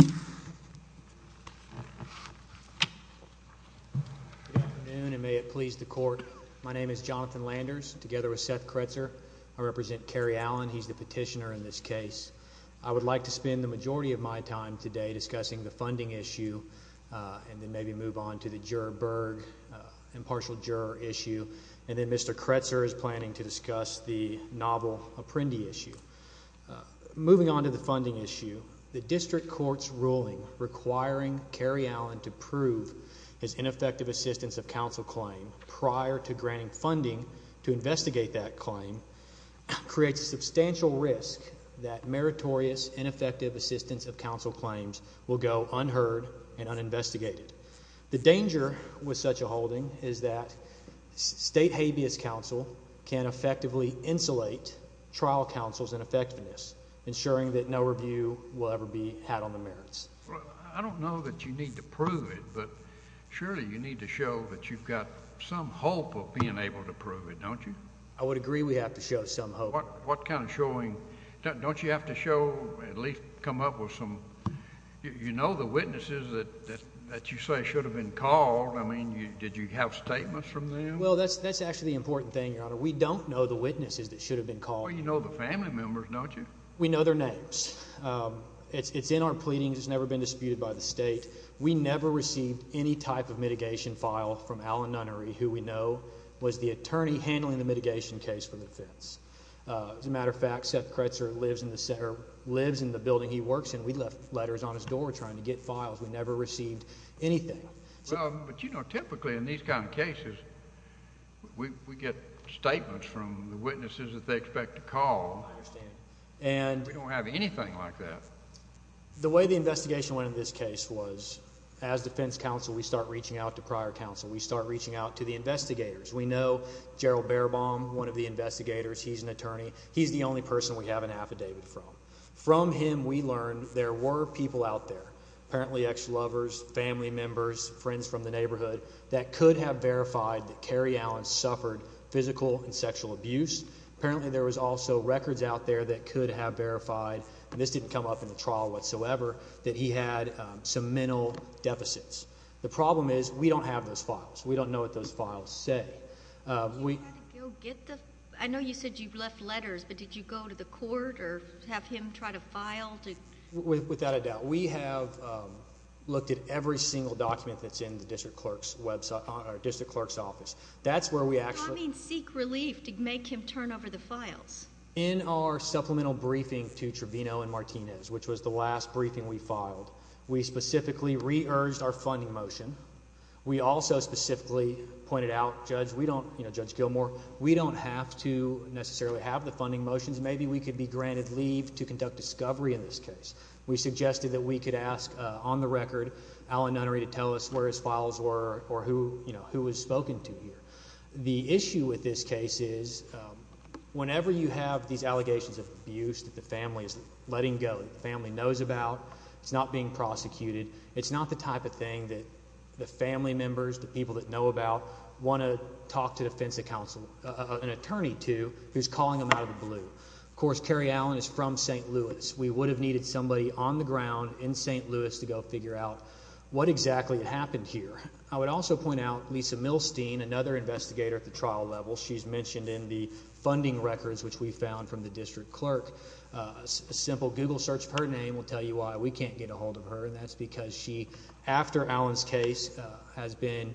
Good afternoon, and may it please the Court. My name is Jonathan Landers, together with Seth Kretzer. I represent Kerry Allen. He's the petitioner in this case. I would like to spend the majority of my time today discussing the funding issue, and then maybe move on to the Juror-Berg, impartial juror issue, and then Mr. Kretzer is planning to discuss the funding issue. The District Court's ruling requiring Kerry Allen to prove his ineffective assistance of counsel claim prior to granting funding to investigate that claim creates substantial risk that meritorious, ineffective assistance of counsel claims will go unheard and uninvestigated. The danger with such a holding is that state habeas counsel can effectively insulate trial counsel's ineffectiveness, ensuring that no review will ever be had on the merits. I don't know that you need to prove it, but surely you need to show that you've got some hope of being able to prove it, don't you? I would agree we have to show some hope. What kind of showing? Don't you have to show, at least come up with some, you know the witnesses that you say should have been called? I mean, did you have statements from them? Well, that's actually the important thing, Your Honor. We don't know the witnesses that should have been called. Well, you know the family members, don't you? We know their names. It's in our pleadings. It's never been disputed by the state. We never received any type of mitigation file from Alan Nunnery, who we know was the attorney handling the mitigation case for the defense. As a matter of fact, Seth Kretzer lives in the building he works in. We left letters on his door trying to get files. We never received anything. Well, but you know, typically in these kind of cases, we get statements from the witnesses that they expect to call. I understand. And we don't have anything like that. The way the investigation went in this case was, as defense counsel, we start reaching out to prior counsel. We start reaching out to the investigators. We know Gerald Baerbaum, one of the investigators, he's an attorney. He's the only person we have an affidavit from. From him, we learned there were people out there, apparently ex-lovers, family members, friends from the neighborhood, that could have verified that Cary Allen suffered physical and sexual abuse. Apparently, there was also records out there that could have verified, and this didn't come up in the trial whatsoever, that he had some mental deficits. The problem is we don't have those files. We don't know what those files say. We had to go get the, I know you said you left letters, but did you go to the court or have him try to file? Without a doubt. We have looked at every single document that's in the district clerk's website, or district clerk's office. That's where we actually... By that I mean seek relief to make him turn over the files. In our supplemental briefing to Trevino and Martinez, which was the last briefing we filed, we specifically re-urged our funding motion. We also specifically pointed out, Judge Gilmour, we don't have to necessarily have the funding motions. Maybe we could be granted leave to conduct discovery in this case. We suggested that we could ask, on the record, Allen Nunnery to tell us where his files were or who was spoken to here. The issue with this case is, whenever you have these allegations of abuse that the family is letting go, the family knows about, it's not being prosecuted, it's not the type of thing that the family members, the people that know about, want to talk to an attorney to who's calling them out of the blue. Of course, Carrie Allen is from St. Louis. We would have needed somebody on the ground in St. Louis to go figure out what exactly happened here. I would also point out Lisa Milstein, another investigator at the trial level. She's mentioned in the funding records, which we found from the district clerk. A simple Google search of her name will tell you why we can't get a hold of her, and that's because she, after Allen's case, has been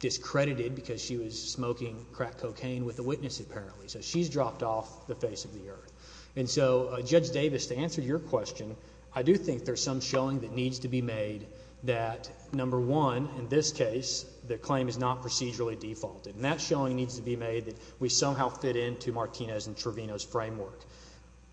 discredited because she was smoking crack cocaine with a witness apparently. So she's dropped off the face of the earth. And so, Judge Davis, to answer your question, I do think there's some showing that needs to be made that, number one, in this case, the claim is not procedurally defaulted. And that showing needs to be made that we somehow fit into Martinez and Trevino's framework.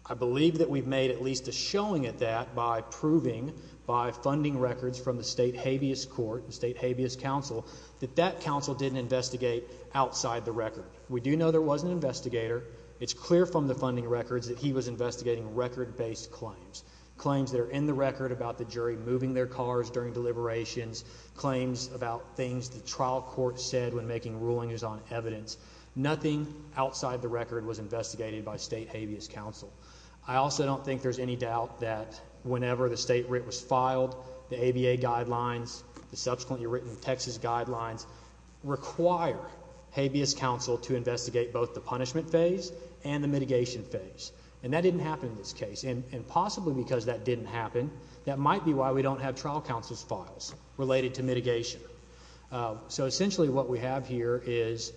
I believe that we've made at least a showing at that by proving, by funding records from the state habeas court, the state habeas counsel, that that counsel didn't investigate outside the record. We do know there was an investigator. It's clear from the funding records that he was investigating record-based claims, claims that are in the record about the jury moving their cars during deliberations, claims about things the trial court said when making rulings on evidence. Nothing outside the record was investigated by state habeas counsel. I also don't think there's any doubt that whenever the state writ was filed, the ABA guidelines, the subsequently written Texas guidelines, require habeas counsel to investigate both the punishment phase and the mitigation phase. And that didn't happen in this case. And possibly because that didn't happen, that might be why we don't have trial counsel's files related to mitigation. So essentially, what we have here is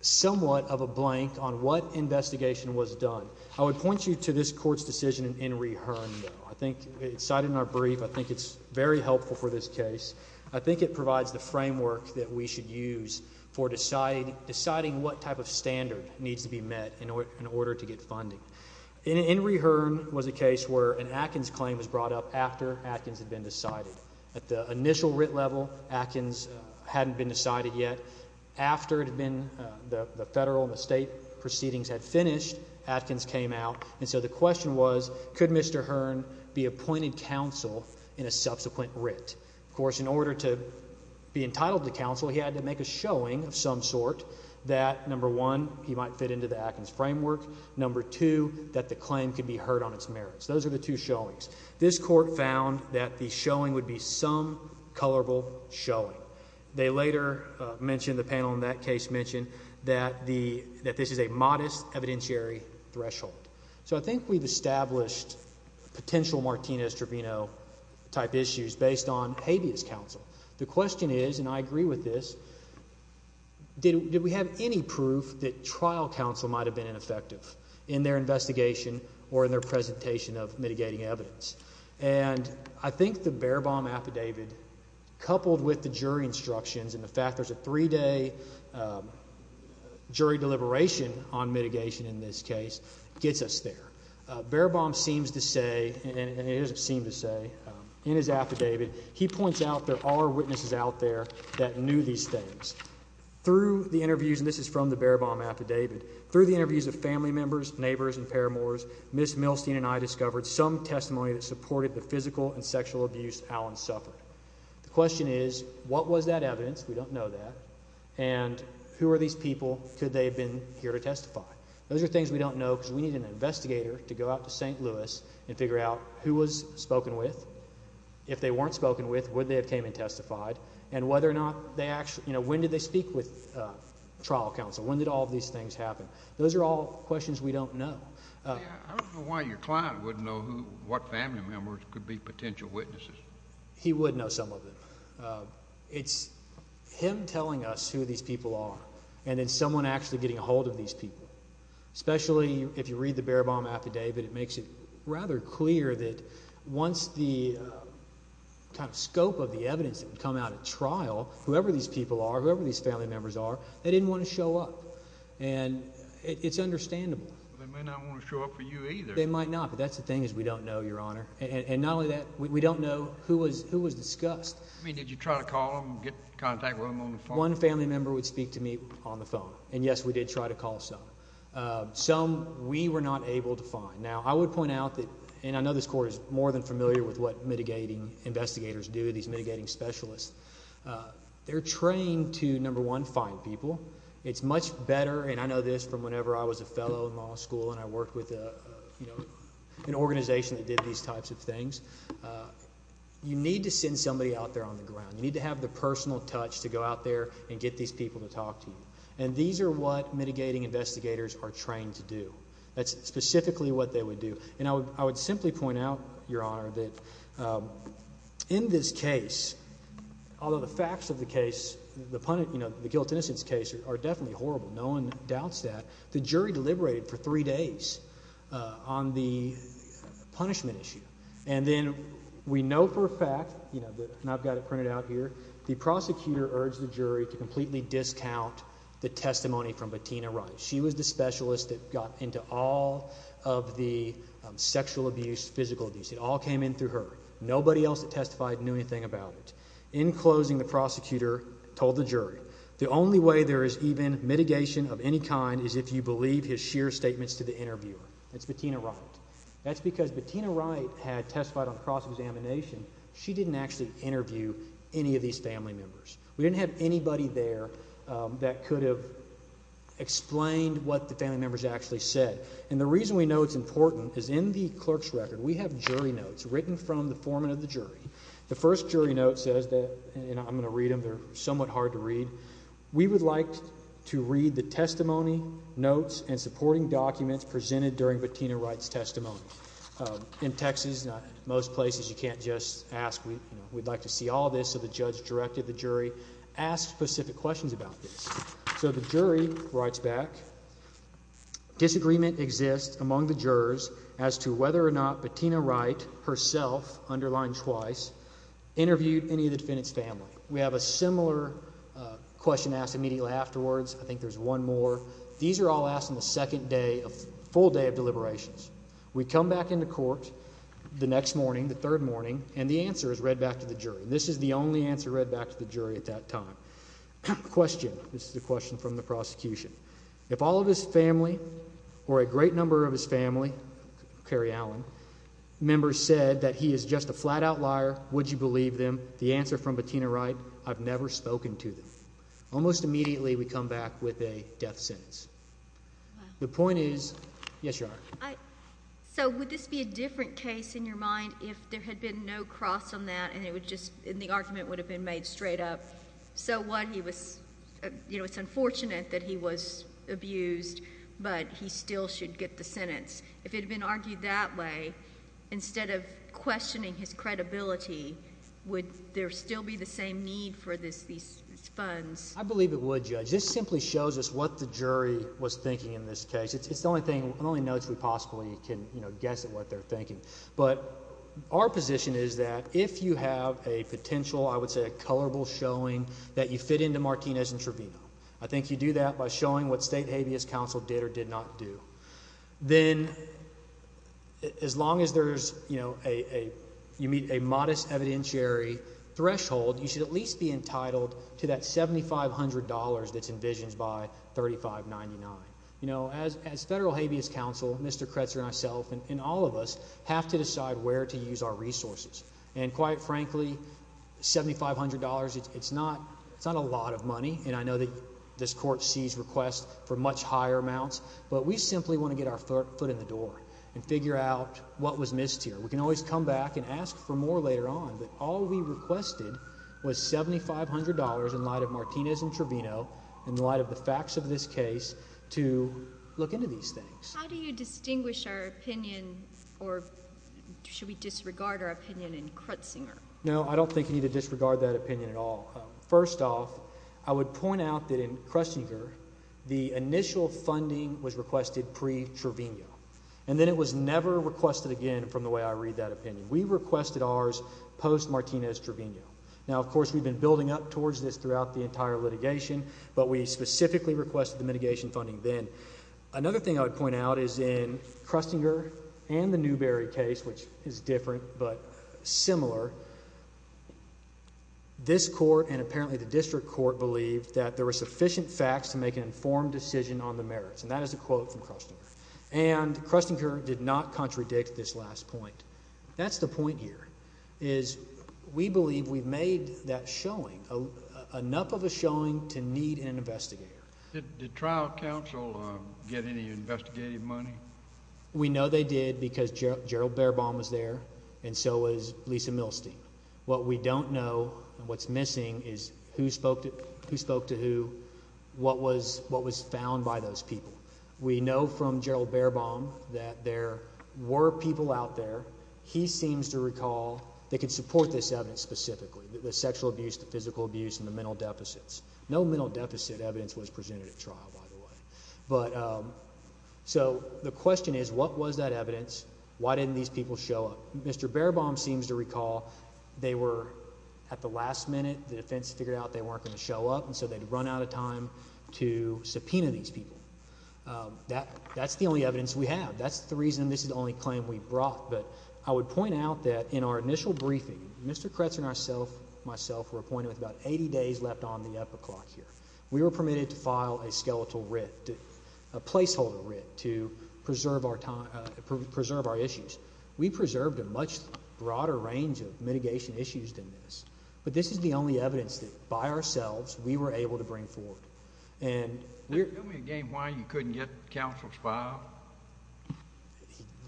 somewhat of a blank on what investigation was done. I would point you to this court's decision in rehearing I think it's cited in our brief. I think it's very helpful for this case. I think it provides the framework that we should use for deciding what type of standard needs to be met in order to get funding. In rehearing was a case where an Atkins claim was brought up after Atkins had been decided. At the initial writ level, Atkins hadn't been decided yet. After it had been, the federal and the state proceedings had finished, Atkins came out. And so the question was, could Mr. Hearn be appointed counsel in a subsequent writ? Of course, in order to be entitled to counsel, he had to make a showing of some sort that number one, he might fit into the Atkins framework. Number two, that the claim could be heard on its merits. Those are the two showings. This court found that the showing would be some colorable showing. They later mentioned, the panel in that case mentioned, that this is a modest evidentiary threshold. So I think we've established potential Martinez-Trevino type issues based on habeas counsel. The question is, and I agree with this, did we have any proof that trial counsel might have been ineffective in their investigation or in their presentation of mitigating evidence? And I think the Baerbaum affidavit, coupled with the jury instructions and the fact there's a three-day jury deliberation on mitigation in this case, gets us there. Baerbaum seems to say, and it doesn't seem to say, in his affidavit, he points out there are witnesses out there that knew these things. Through the interviews, and this is from the Baerbaum affidavit, through the interviews of family members, neighbors, and paramours, Ms. Milstein and I discovered some testimony that supported the physical and sexual abuse Allen suffered. The question is, what was that evidence? We don't know that. And who are these people? Could they have been here to testify? Those are things we don't know because we need an investigator to go out to St. Louis and figure out who was spoken with. If they weren't spoken with, would they have came and testified? And whether or not they actually, you know, when did they speak with trial counsel? When did all of these things happen? Those are all questions we don't know. I don't know why your client wouldn't know what family members could be potential witnesses. He would know some of them. It's him telling us who these people are, and then someone actually getting a hold of these people. Especially if you read the Baerbaum affidavit, it makes it rather clear that once the kind of scope of the evidence had come out at trial, whoever these people are, whoever these family members are, they didn't want to show up. And it's understandable. They may not want to show up for you either. They might not, but that's the thing is we don't know, Your Honor. And not only that, we don't know who was discussed. I mean, did you try to call them and get contact with them on the phone? One family member would speak to me on the phone. And yes, we did try to call some. Some we were not able to find. Now, I would point out that, and I know this Court is more than familiar with what mitigating investigators do, these mitigating specialists. They're trained to, number one, find people. It's much better, and I know this from whenever I was a fellow in law school and I worked with an organization that did these types of things. You need to send somebody out there on the ground. You need to have the personal touch to go out there and get these people to talk to you. And these are what mitigating investigators are trained to do. That's specifically what they would do. And I would simply point out, Your Honor, that in this case, although the facts of the case, you know, the guilt and innocence case are definitely horrible. No one doubts that. The jury deliberated for three days on the punishment issue. And then we know for a fact, and I've got it printed out here, the prosecutor urged the jury to completely discount the testimony from Bettina Rice. She was the specialist that got into all of the sexual abuse, physical abuse. It all came in through her. Nobody else that testified knew anything about it. In closing, the prosecutor told the jury, the only way there is even mitigation of any kind is if you believe his sheer statements to the interviewer. That's Bettina Rice. That's because Bettina Rice had testified on cross-examination. She didn't actually interview any of these family members. We didn't have anybody there that could have explained what the family members actually said. And the reason we know it's important is in the clerk's record, we have jury notes written from the foreman of the jury. The first jury note says that, and I'm going to read them. They're somewhat hard to read. We would like to read the testimony notes and supporting documents presented during Bettina Rice's testimony. In Texas, most places, you can't just ask. We'd like to see all this. So the judge directed the jury, ask specific questions about this. So the jury writes back, disagreement exists among the jurors as to whether or not Bettina Rice herself, underlined twice, interviewed any of the defendant's family. We have a similar question asked immediately afterwards. I think there's one more. These are all asked on the second day, full day of deliberations. We come back into court the next morning, the third morning, and the answer is read back to the jury. This is the only answer read back to the jury at that time. Question, this is a question from the foreman. Members said that he is just a flat-out liar. Would you believe them? The answer from Bettina Rice, I've never spoken to them. Almost immediately, we come back with a death sentence. The point is, yes, Your Honor. So would this be a different case in your mind if there had been no cross on that and it would just, and the argument would have been made straight up. So what, he was, you know, it's unfortunate that he was abused, but he still should get the sentence. If it had been argued that way, instead of questioning his credibility, would there still be the same need for these funds? I believe it would, Judge. This simply shows us what the jury was thinking in this case. It's the only thing, the only notes we possibly can, you know, guess at what they're thinking. But our position is that if you have a potential, I would say a colorable showing, that you fit into Martinez and Trevino. I think you do that by showing what State Habeas Council did or did not do. Then, as long as there's, you know, a modest evidentiary threshold, you should at least be entitled to that $7,500 that's envisioned by 3599. You know, as Federal Habeas Council, Mr. Kretzer and myself and all of us have to decide where to use our resources. And quite frankly, $7,500, it's not a lot of money. And I know that this Court sees requests for much higher amounts, but we simply want to get our foot in the door and figure out what was missed here. We can always come back and ask for more later on, but all we requested was $7,500 in light of Martinez and Trevino, in light of the facts of this case, to look into these things. How do you distinguish our opinion, or should we disregard our opinion in Kretzinger? No, I don't think you need to disregard that opinion at all. First off, I would point out that in Kretzinger, the initial funding was requested pre-Trevino, and then it was never requested again from the way I read that opinion. We requested ours post-Martinez-Trevino. Now, of course, we've been building up towards this throughout the entire litigation, but we specifically requested the mitigation funding then. Another thing I would point out is in the Newberry case, which is different, but similar, this Court and apparently the District Court believed that there were sufficient facts to make an informed decision on the merits, and that is a quote from Krestinger. And Krestinger did not contradict this last point. That's the point here, is we believe we've made that showing, enough of a showing, to need an investigator. Did trial counsel get any investigative money? We know they did, because Gerald Baerbaum was there, and so was Lisa Milstein. What we don't know, and what's missing, is who spoke to who, what was found by those people. We know from Gerald Baerbaum that there were people out there, he seems to recall, that could support this evidence specifically, the sexual abuse, the physical abuse, and the mental deficits. No mental deficit evidence was presented at trial, by the way. So, the question is, what was that evidence? Why didn't these people show up? Mr. Baerbaum seems to recall they were, at the last minute, the defense figured out they weren't going to show up, and so they'd run out of time to subpoena these people. That's the only evidence we have. That's the reason this is the only claim we brought. But I would point out that in our initial briefing, Mr. Kretsinger and myself were appointed with about 80 days left on the epoclock here. We were permitted to file a skeletal writ, a placeholder writ, to preserve our issues. We preserved a much broader range of mitigation issues than this, but this is the only evidence that, by ourselves, we were able to bring forward. Tell me again why you couldn't get counsel's file?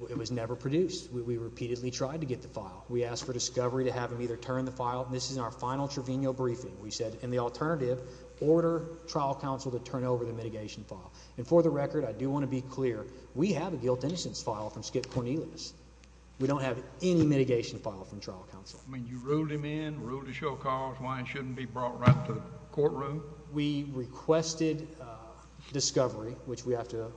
It was never produced. We repeatedly tried to get the file. We asked for discovery to have them either turn the file, and this is in our final trivenial briefing, we said, in the alternative, order trial counsel to turn over the mitigation file. And for the record, I do want to be clear, we have a guilt-innocence file from Skip Cornelius. We don't have any mitigation file from trial counsel. I mean, you ruled him in, ruled to show cause, why it shouldn't be brought right to the courtroom? We requested discovery, which we have to,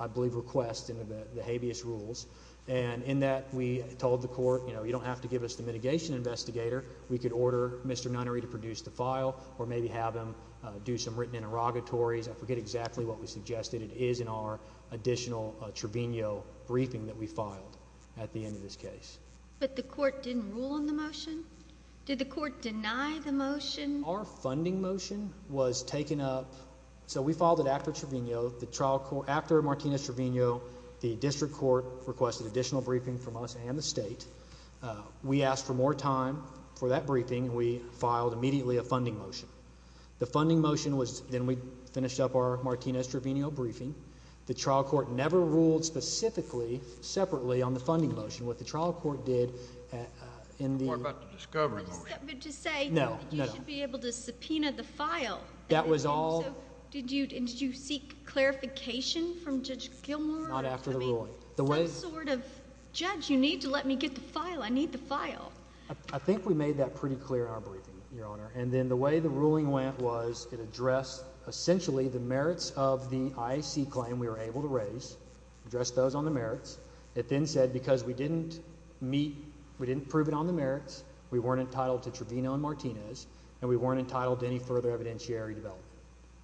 I believe, request in the habeas rules, and in that, we told the court, you know, you don't have to give us the mitigation investigator. We could order Mr. Nonnery to produce the file, or maybe have him do some written interrogatories. I forget exactly what we suggested. It is in our additional trivenial briefing that we filed at the end of this case. But the court didn't rule on the motion? Did the court deny the motion? Our funding motion was taken up, so we filed it after trivenial. After Martina's trivenial, the district court requested additional briefing from us and the state. We asked for more time for that briefing, and we filed immediately a funding motion. The funding motion was, then we finished up our Martina's trivenial briefing. The trial court never ruled specifically, separately on the funding motion. What the trial court did in the... What about the discovery? To say... No, no, no. You should be able to subpoena the file. That was all... So, did you, did you seek clarification from Judge Gilmour? Not after the ruling. I mean, I'm sort of, Judge, you need to let me get the file. I need the file. I think we made that pretty clear in our briefing, Your Honor. And then the way the ruling went was it addressed, essentially, the merits of the IAC claim we were able to raise, addressed those on the merits. It then said, because we didn't meet, we didn't prove it on the merits, we weren't entitled to trivenial on Martina's, and we weren't entitled to any further evidentiary development.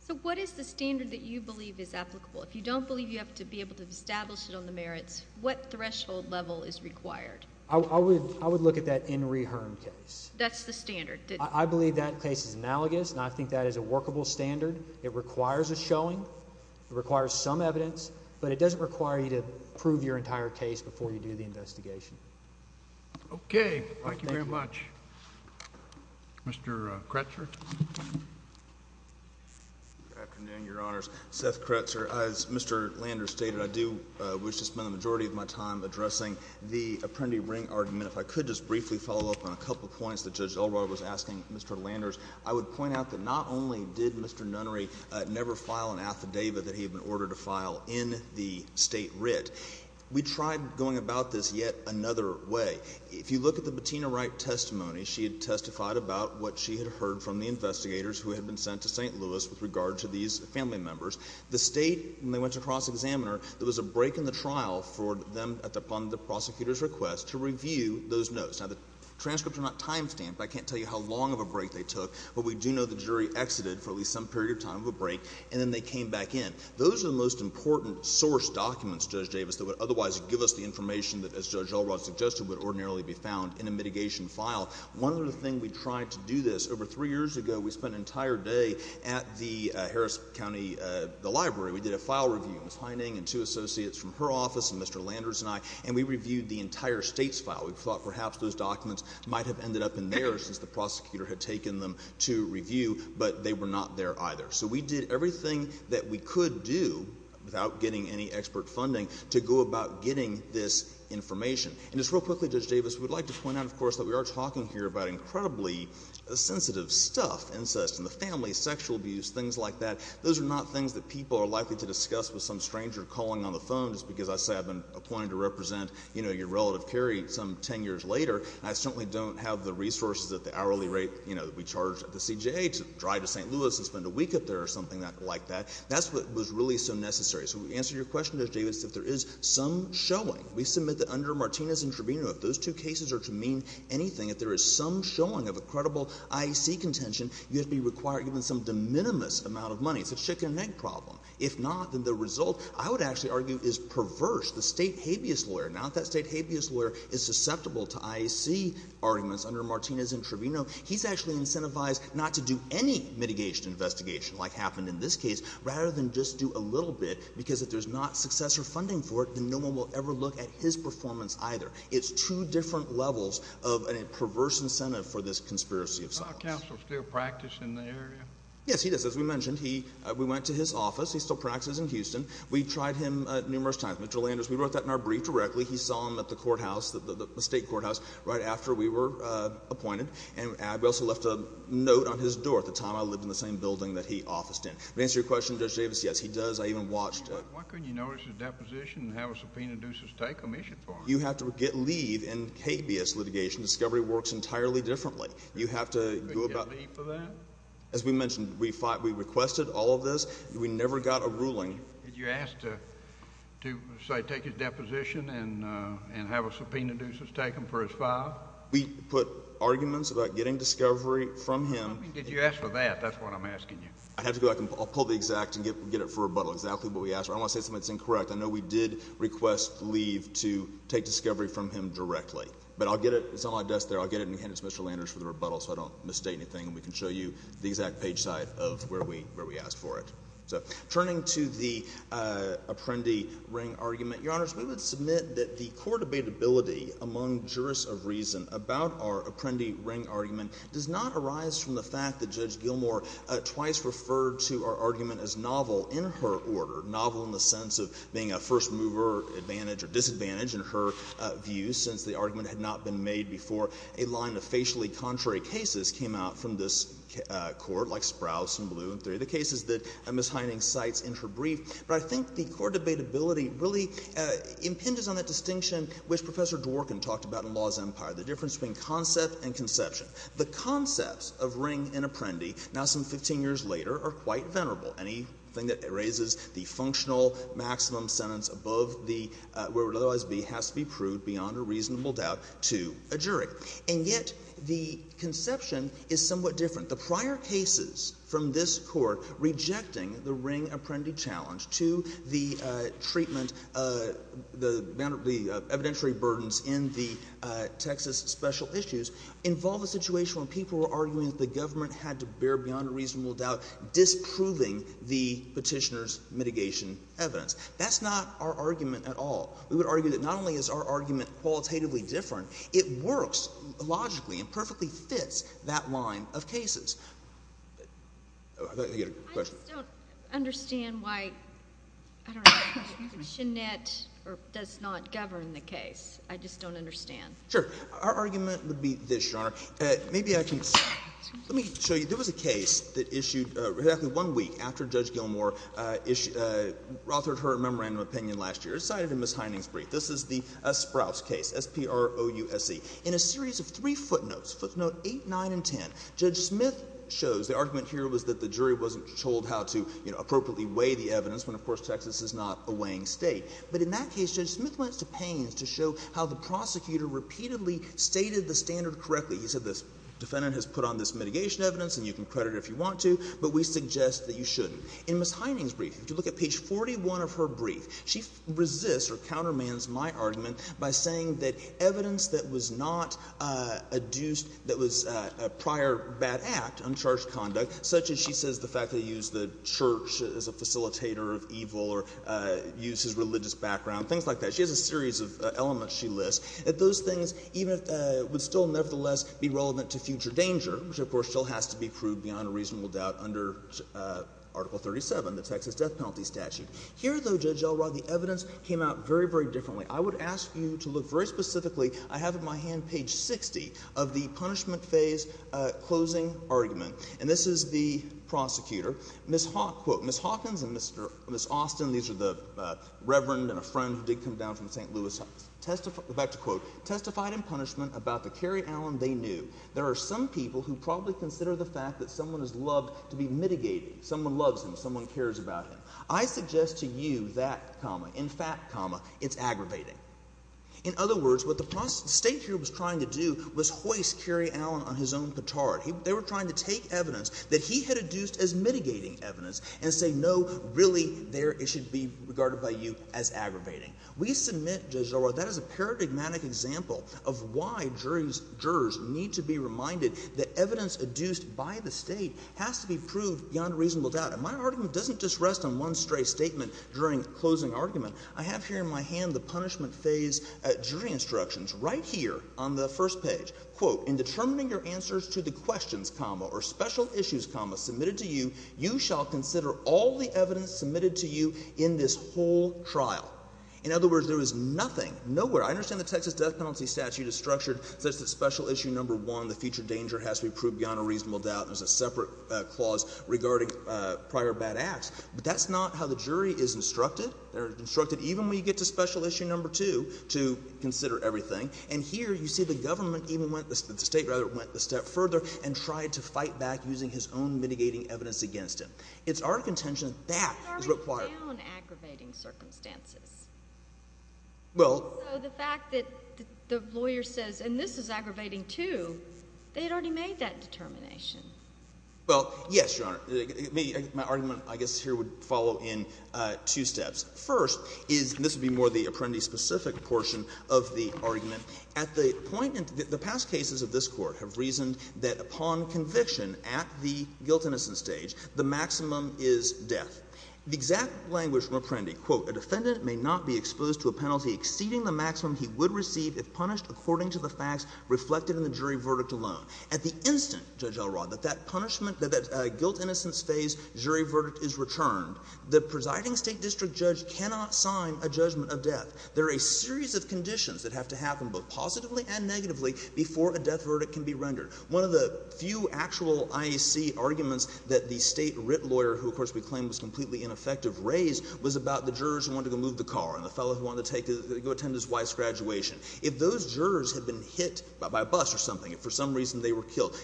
So, what is the standard that you believe is applicable? If you don't believe you have to be able to establish it on the merits, what threshold level is required? I would, I would look at that Henry Hearn case. That's the standard? I believe that case is analogous, and I think that is a workable standard. It requires a showing, it requires some evidence, but it doesn't require you to prove your entire case before you do the investigation. Okay. Thank you very much. Mr. Kretzer? Good afternoon, Your Honors. Seth Kretzer. As Mr. Lander stated, I do wish to spend the apprendi ring argument, if I could just briefly follow up on a couple of points that Judge Elroy was asking Mr. Landers. I would point out that not only did Mr. Nunnery never file an affidavit that he had been ordered to file in the State writ, we tried going about this yet another way. If you look at the Bettina Wright testimony, she had testified about what she had heard from the investigators who had been sent to St. Louis with regard to these family members. The State, when they went to cross-examine her, there was a break in the trial for them, upon the prosecutor's request, to review those notes. Now, the transcripts are not time-stamped. I can't tell you how long of a break they took, but we do know the jury exited for at least some period of time of a break, and then they came back in. Those are the most important source documents, Judge Davis, that would otherwise give us the information that, as Judge Elroy suggested, would ordinarily be found in a mitigation file. One other thing we tried to do this, over three years ago, we spent an entire day at the Harris County, the library. We did a file review. Ms. Heining and two associates from her office, Mr. Landers and I, and we reviewed the entire State's file. We thought perhaps those documents might have ended up in there since the prosecutor had taken them to review, but they were not there either. So we did everything that we could do, without getting any expert funding, to go about getting this information. And just real quickly, Judge Davis, we would like to point out, of course, that we are talking here about incredibly sensitive stuff, incest in the family, sexual abuse, things like that. Those are not things that people are likely to discuss with some stranger calling on the phone just because I say I've been appointed to represent, you know, your relative Carrie some 10 years later, and I certainly don't have the resources at the hourly rate, you know, that we charge at the CJA to drive to St. Louis and spend a week up there or something like that. That's what was really so necessary. So to answer your question, Judge Davis, if there is some showing, we submit that under Martinez and Trevino, if those two cases are to mean anything, if there is some showing of a credible IEC contention, you have to be required to give them some de minimis amount of money. It's a chicken and egg problem. If not, then the result — I would actually argue is perverse. The state habeas lawyer — now, if that state habeas lawyer is susceptible to IEC arguments under Martinez and Trevino, he's actually incentivized not to do any mitigation investigation, like happened in this case, rather than just do a little bit, because if there's not successor funding for it, then no one will ever look at his performance either. It's two different levels of a perverse incentive for this conspiracy of silence. Is our counsel still practicing in the area? Yes, he is. As we mentioned, he — we went to his office. He still practices in Houston. We tried him numerous times. Mr. Landers, we wrote that in our brief directly. He saw him at the courthouse, the State courthouse, right after we were appointed. And we also left a note on his door at the time I lived in the same building that he officed in. To answer your question, Judge Davis, yes, he does. I even watched him. Why couldn't you notice his deposition and have a subpoena do some state commission for him? You have to get leave in habeas litigation. Discovery works entirely differently. You have to go about — But you get leave for that? As we mentioned, we requested all of this. We never got a ruling. Did you ask to, say, take his deposition and have a subpoena do some state commission for his file? We put arguments about getting discovery from him. I mean, did you ask for that? That's what I'm asking you. I have to go back and — I'll pull the exact and get it for rebuttal, exactly what we asked for. I don't want to say something that's incorrect. I know we did request leave to take discovery from him directly. But I'll get it. It's on my desk there. I'll get it and hand it to Mr. Landers for the rebuttal so I don't misstate anything and we can show you the exact page size of where we asked for it. So, turning to the Apprendi-Ring argument, Your Honors, we would submit that the court abatability among jurists of reason about our Apprendi-Ring argument does not arise from the fact that Judge Gilmour twice referred to our argument as novel in her order, novel in the sense of being a first-mover advantage or disadvantage in her view, since the argument had not been made before a line of facially contrary cases came out from this court, like Sprouse and Blue and three of the cases that Ms. Hynding cites in her brief. But I think the court abatability really impinges on that distinction which Professor Dworkin talked about in Law's Empire, the difference between concept and conception. The concepts of Ring and Apprendi, now some 15 years later, are quite venerable. Anything that raises the functional maximum sentence above the — where it would otherwise be has to be proved beyond a reasonable doubt to a jury. And yet the conception is somewhat different. The prior cases from this court rejecting the Ring-Apprendi challenge to the treatment — the evidentiary burdens in the Texas special issues involve a situation when people were arguing that the government had to bear beyond a reasonable doubt disproving the Petitioner's mitigation evidence. That's not our argument at all. We would argue that not only is our argument qualitatively different, it works logically and perfectly fits that line of cases. I thought you had a question. I just don't understand why — I don't know — Channette does not govern the case. I just don't understand. Sure. Our argument would be this, Your Honor. Maybe I can — let me show you — there was a case that issued exactly one week after Judge Gilmour authored her memorandum opinion last year, cited in Ms. Hynding's brief. This is the Sprouse case, S-P-R-O-U-S-E. In a series of three footnotes, footnotes 8, 9, and 10, Judge Smith shows — the argument here was that the jury wasn't told how to, you know, appropriately weigh the evidence when, of course, Texas is not a weighing State. But in that case, Judge Smith went to pains to show how the prosecutor repeatedly stated the standard correctly. He said the defendant has put on this mitigation evidence and you can credit her if you want to, but we suggest that you shouldn't. In Ms. Hynding's brief, if you look at page 41 of her brief, she resists or countermands my argument by saying that evidence that was not adduced, that was a prior bad act, uncharged conduct, such as she says the fact that he used the church as a facilitator of evil or used his religious background, things like that, she has a series of elements she lists, that those things even if — would still nevertheless be relevant to future danger, which of course still has to be proved beyond a reasonable doubt under Article 37, the Texas death penalty statute. Here, though, Judge Elrod, the evidence came out very, very differently. I would ask you to look very specifically, I have at my hand page 60 of the punishment phase closing argument. And this is the prosecutor. Ms. Hawkins and Mr. — Ms. Austin, these are the reverend and a friend who did come down from St. Louis, testified — go back to quote — testified in punishment about the Cary Allen they knew. There are some people who probably consider the fact that someone is loved to be mitigating, someone loves him, someone cares about him. I suggest to you that comma, in fact comma, it's aggravating. In other words, what the state here was trying to do was hoist Cary Allen on his own petard. They were trying to take evidence that he had adduced as mitigating evidence and say, no, really, there it should be regarded by you as aggravating. We submit, Judge Elrod, that is a paradigmatic example of why jurors need to be reminded that evidence adduced by the state has to be proved beyond a reasonable doubt. And my argument doesn't just rest on one stray statement during closing argument. I have here in my hand the punishment phase jury instructions right here on the first page. Quote, in determining your answers to the questions comma or special issues comma submitted to you, you shall consider all the evidence submitted to you in this whole trial. In other words, there is nothing, nowhere — I understand the Texas death penalty statute is structured such that special issue number one, the future danger has to be proved beyond a reasonable doubt. There's a separate clause regarding prior bad acts. But that's not how the jury is instructed. They're instructed even when you get to special issue number two to consider everything. And here you see the government even went — the state, rather, went a step further and tried to fight back using his own mitigating evidence against him. It's our contention that that is required. But they're already down aggravating circumstances. Well — So the fact that the lawyer says, and this is aggravating too, they had already made that determination. Well, yes, Your Honor. My argument, I guess, here would follow in two steps. First is — and this would be more the Apprendi-specific portion of the argument. At the point — the past cases of this Court have reasoned that upon conviction at the guilt-innocence stage, the maximum is death. The exact language from Apprendi, quote, a defendant may not be exposed to a penalty exceeding the maximum he would receive if punished according to the facts reflected The maximum is death. The maximum is death. The maximum is death. The maximum is death. The maximum is death. that guilt-innocence phase jury verdict is returned, the presiding State district judge cannot sign a judgment of death. There are a series of conditions that have to happen, both positively and negatively, before a death verdict can be rendered. One of the few actual IAC arguments that the State writ lawyer, who of course we claim was completely ineffective, raised was about the jurors who wanted to move the car and the fellow who wanted to go attend his wife's graduation. If those jurors had been hit by a bus or something, if for some reason they were killed,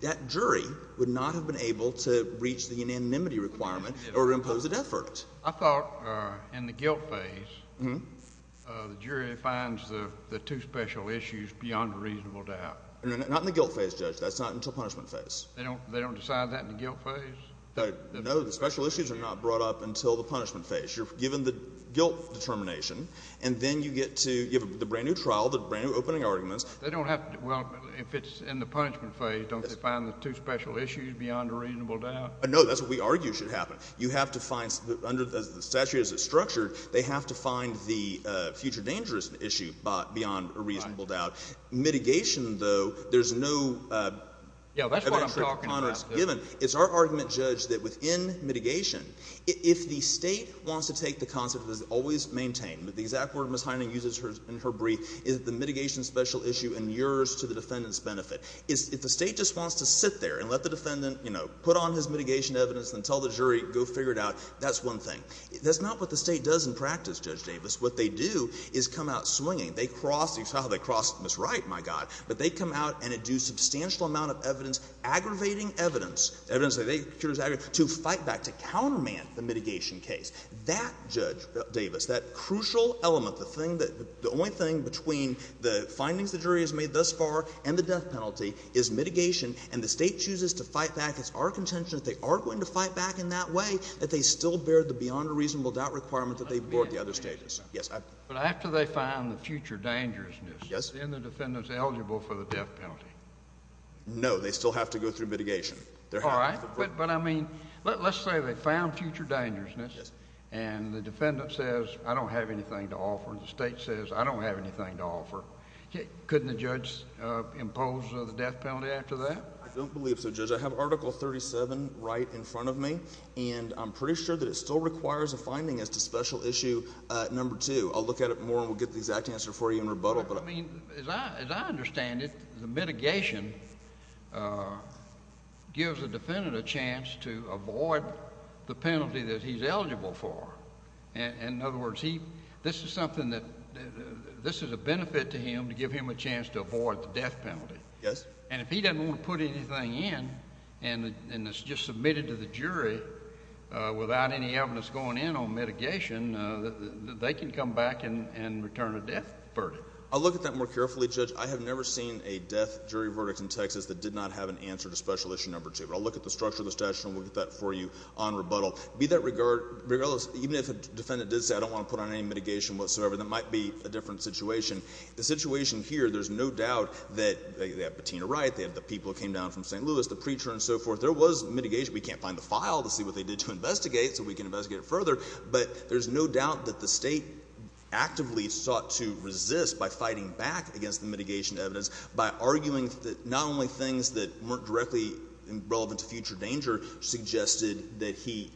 that jury would not have been able to reach the unanimity requirement or impose a death verdict. I thought in the guilt phase, the jury finds the two special issues beyond a reasonable doubt. Not in the guilt phase, Judge. That's not until punishment phase. They don't decide that in the guilt phase? No. The special issues are not brought up until the punishment phase. You're given the guilt determination, and then you get to, you have the brand new trial, the brand new opening arguments. They don't have to, well, if it's in the punishment phase, don't they find the two special issues beyond a reasonable doubt? No. That's what we argue should happen. You have to find, under the statute as it's structured, they have to find the future dangerous issue beyond a reasonable doubt. Mitigation, though, there's no eventual conduct given. It's our argument, Judge, that within mitigation, if the State wants to take the concept that is always maintained, the exact word Ms. Hynding uses in her brief, is the mitigation special issue and yours to the defendant's benefit. If the State just wants to sit there and let the defendant, you know, put on his mitigation evidence and tell the jury, go figure it out, that's one thing. That's not what the State does in practice, Judge Davis. What they do is come out swinging. They cross the trial. They cross Ms. Wright, my God. But they come out and do a substantial amount of evidence, aggravating evidence, evidence that they think is aggravating, to fight back, to counterman the mitigation case. That, Judge Davis, that crucial element, the thing that the only thing between the findings the jury has made thus far and the death penalty is mitigation, and the State chooses to fight back. It's our contention that they are going to fight back in that way, that they still bear the beyond a reasonable doubt requirement that they've brought to the other stages. Yes. But after they find the future dangerousness, then the defendant's eligible for the death penalty. No, they still have to go through mitigation. All right. But I mean, let's say they found future dangerousness, and the defendant says, I don't have anything to offer, and the State says, I don't have anything to offer. Couldn't the judge impose the death penalty after that? I don't believe so, Judge. I have Article 37 right in front of me, and I'm pretty sure that it still requires a finding as to special issue number two. I'll look at it more, and we'll get the exact answer for you in rebuttal, but... I mean, as I understand it, the mitigation gives the defendant a chance to avoid the penalty that he's eligible for. In other words, this is something that... this is a benefit to him to give him a chance to avoid the death penalty. Yes. And if he doesn't want to put anything in, and it's just submitted to the jury without any evidence going in on mitigation, they can come back and return a death verdict. I'll look at that more carefully, Judge. I have never seen a death jury verdict in Texas that did not have an answer to special issue number two, but I'll look at the structure of the statute, and we'll get that for you on rebuttal. Be that regardless, even if a defendant did say, I don't want to put on any mitigation whatsoever, that might be a different situation. The situation here, there's no doubt that they have Bettina Wright, they have the people who came down from St. Louis, the preacher and so forth. There was mitigation. We can't find the file to see what they did to investigate, so we can investigate it further. But there's no doubt that the State actively sought to resist by fighting back against the mitigation evidence by arguing that not only things that weren't directly relevant to future danger suggested that he